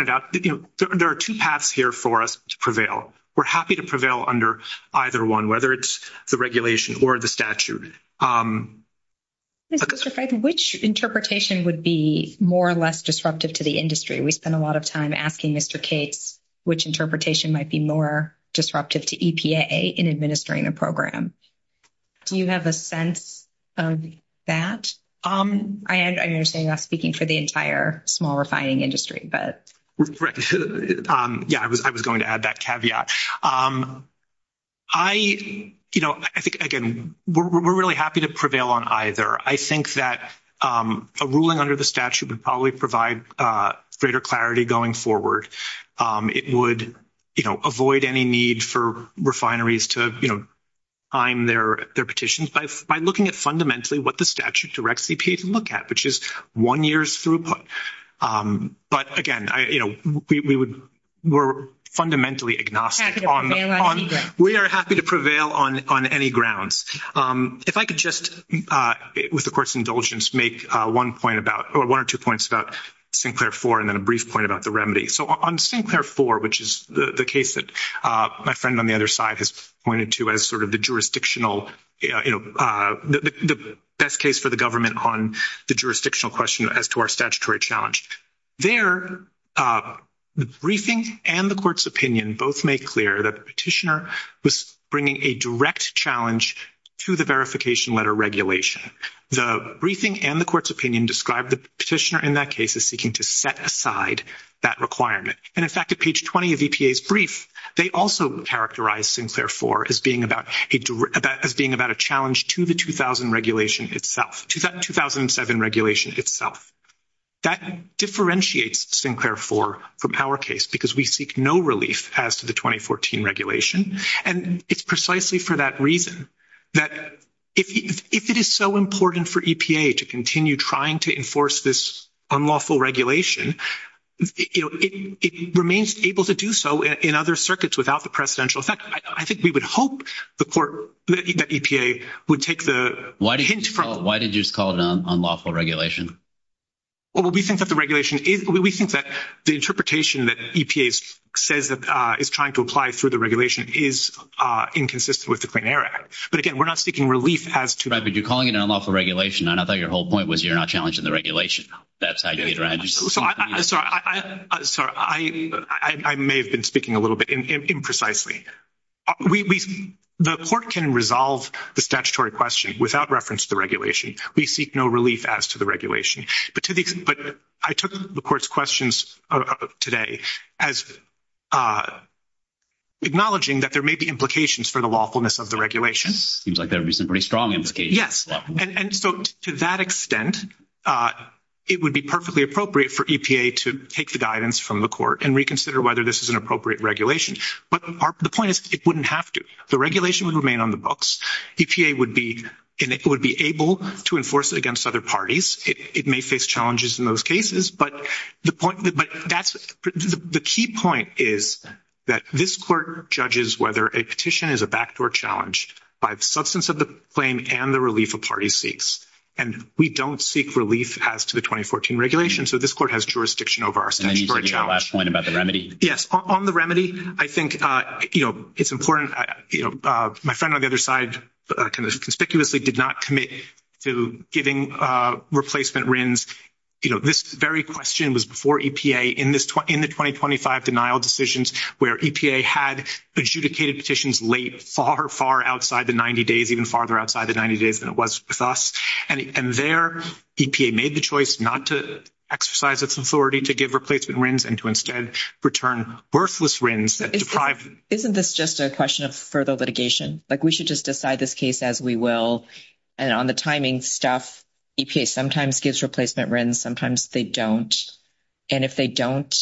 out, you know, there are two paths here for us to prevail. We're happy to prevail under either one, whether it's the regulation or the statute. Mr. Friedman, which interpretation would be more or less disruptive to the industry? We spend a lot of time asking Mr. Cates which interpretation might be more disruptive to EPA in administering a program. Do you have a sense of that? I understand you're speaking for the entire small refining industry, but. Yeah, I was going to add that caveat. I, you know, I think, again, we're really happy to prevail on either. I think that a ruling under the statute would probably provide greater clarity going forward. It would, you know, avoid any need for refineries to, you know, time their petitions by looking at fundamentally what the statute directs EPA to look at, which is one year's throughput. But again, you know, we would, we're fundamentally agnostic. We are happy to prevail on any grounds. If I could just, with, of course, indulgence, make one point about or one or two points about Sinclair IV and then a brief point about the remedy. So, on Sinclair IV, which is the case that my friend on the other side has pointed to as sort of the jurisdictional, you know, the best case for the government on the jurisdictional question as to our statutory challenge. There, the briefing and the court's opinion both made clear that the petitioner was bringing a direct challenge to the verification letter regulation. The briefing and the court's opinion described the petitioner in that case as seeking to set aside that requirement. And in fact, at page 20 of EPA's brief, they also characterized Sinclair IV as being about a challenge to the 2000 regulation itself, to that 2007 regulation itself. That differentiates Sinclair IV from our case because we seek no relief as to the 2014 regulation. And it's precisely for that reason that if it is so important for EPA to continue trying to enforce this unlawful regulation, you know, it remains able to do so in other circuits without the precedential. In fact, I think we would hope the court, that EPA would take the hint from— Why did you just call it an unlawful regulation? Well, we think that the regulation is—we think that the interpretation that EPA says is trying to apply through the regulation is inconsistent with the Clean Air Act. But again, we're not seeking relief as to— Right, but you're calling it an unlawful regulation, and I thought your whole point was you're not challenging the regulation. That's how you— I'm sorry. I may have been speaking a little bit imprecisely. The court can resolve the statutory question without reference to the regulation. We seek no relief as to the regulation. But I took the court's questions today as acknowledging that there may be implications for the lawfulness of the regulation. Seems like there is a pretty strong implication. Yes, and so to that extent, it would be perfectly appropriate for EPA to take the guidance from the court and reconsider whether this is an appropriate regulation. But the point is it wouldn't have to. The regulation would remain on the books. EPA would be—and it would be able to enforce it against other parties. It may face challenges in those cases. But the point—but that's—the key point is that this court judges whether a petition is a backdoor challenge by the substance of the claim and the relief a party seeks. And we don't seek relief as to the 2014 regulation, so this court has jurisdiction over our challenge. And your last point about the remedy? Yes, on the remedy, I think, you know, it's important—you know, my friend on the other side kind of conspicuously did not commit to giving replacement RINs. You know, this very question was before EPA in the 2025 denial decisions where EPA had adjudicated petitions late, far, far outside the 90 days, even farther outside the 90 days than it was with us. And there EPA made the choice not to exercise its authority to give replacement RINs and to instead return worthless RINs that deprived— Isn't this just a question of further litigation? Like, we should just decide this case as we will. And on the timing stuff, EPA sometimes gives replacement RINs, sometimes they don't. And if they don't,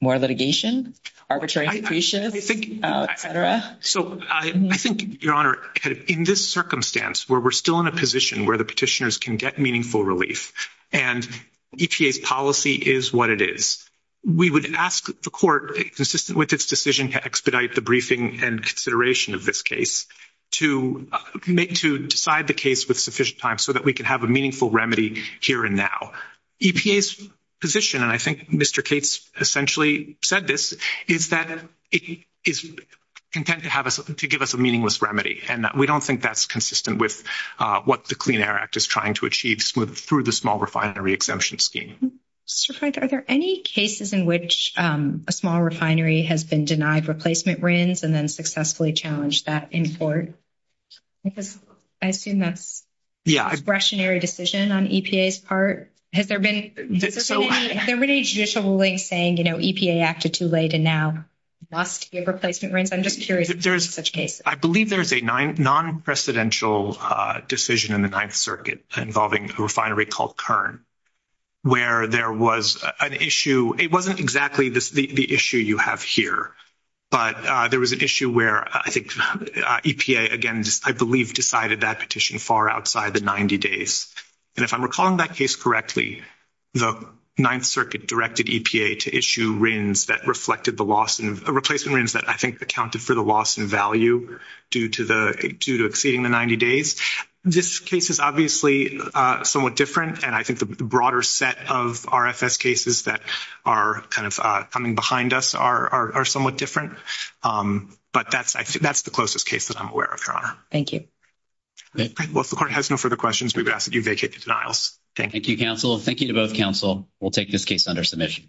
more litigation? Arbitrary depreciation, et cetera? So, I think, Your Honor, in this circumstance where we're still in a position where the petitioners can get meaningful relief and EPA's policy is what it is, we would ask the court, consistent with its decision to expedite the briefing and consideration of this case, to decide the case with sufficient time so that we can have a meaningful remedy here and now. EPA's position, and I think Mr. Cates essentially said this, is that it is content to give us a meaningless remedy. And we don't think that's consistent with what the Clean Air Act is trying to achieve through the small refinery exemption scheme. Mr. Frank, are there any cases in which a small refinery has been denied replacement RINs and then successfully challenged that in court? I assume that's a discretionary decision on EPA's part. Has there been any judicial ruling saying, you know, EPA acted too late and now must give replacement RINs? I'm just curious if there's such cases. I believe there's a non-presidential decision in the Ninth Circuit involving a refinery called Kern where there was an issue. It wasn't exactly the issue you have here, but there was an issue where I think EPA, again, I believe decided that petition far outside the 90 days. And if I'm recalling that case correctly, the Ninth Circuit directed EPA to issue RINs that reflected the loss, replacing RINs that I think accounted for the loss in value due to exceeding the 90 days. This case is obviously somewhat different, and I think the broader set of RFS cases that are kind of coming behind us are somewhat different. But that's the closest case that I'm aware of, Your Honor. Thank you. Well, if the court has no further questions, we would ask that you vacate the denials. Thank you. Thank you, counsel. Thank you to both counsel. We'll take this case under submission.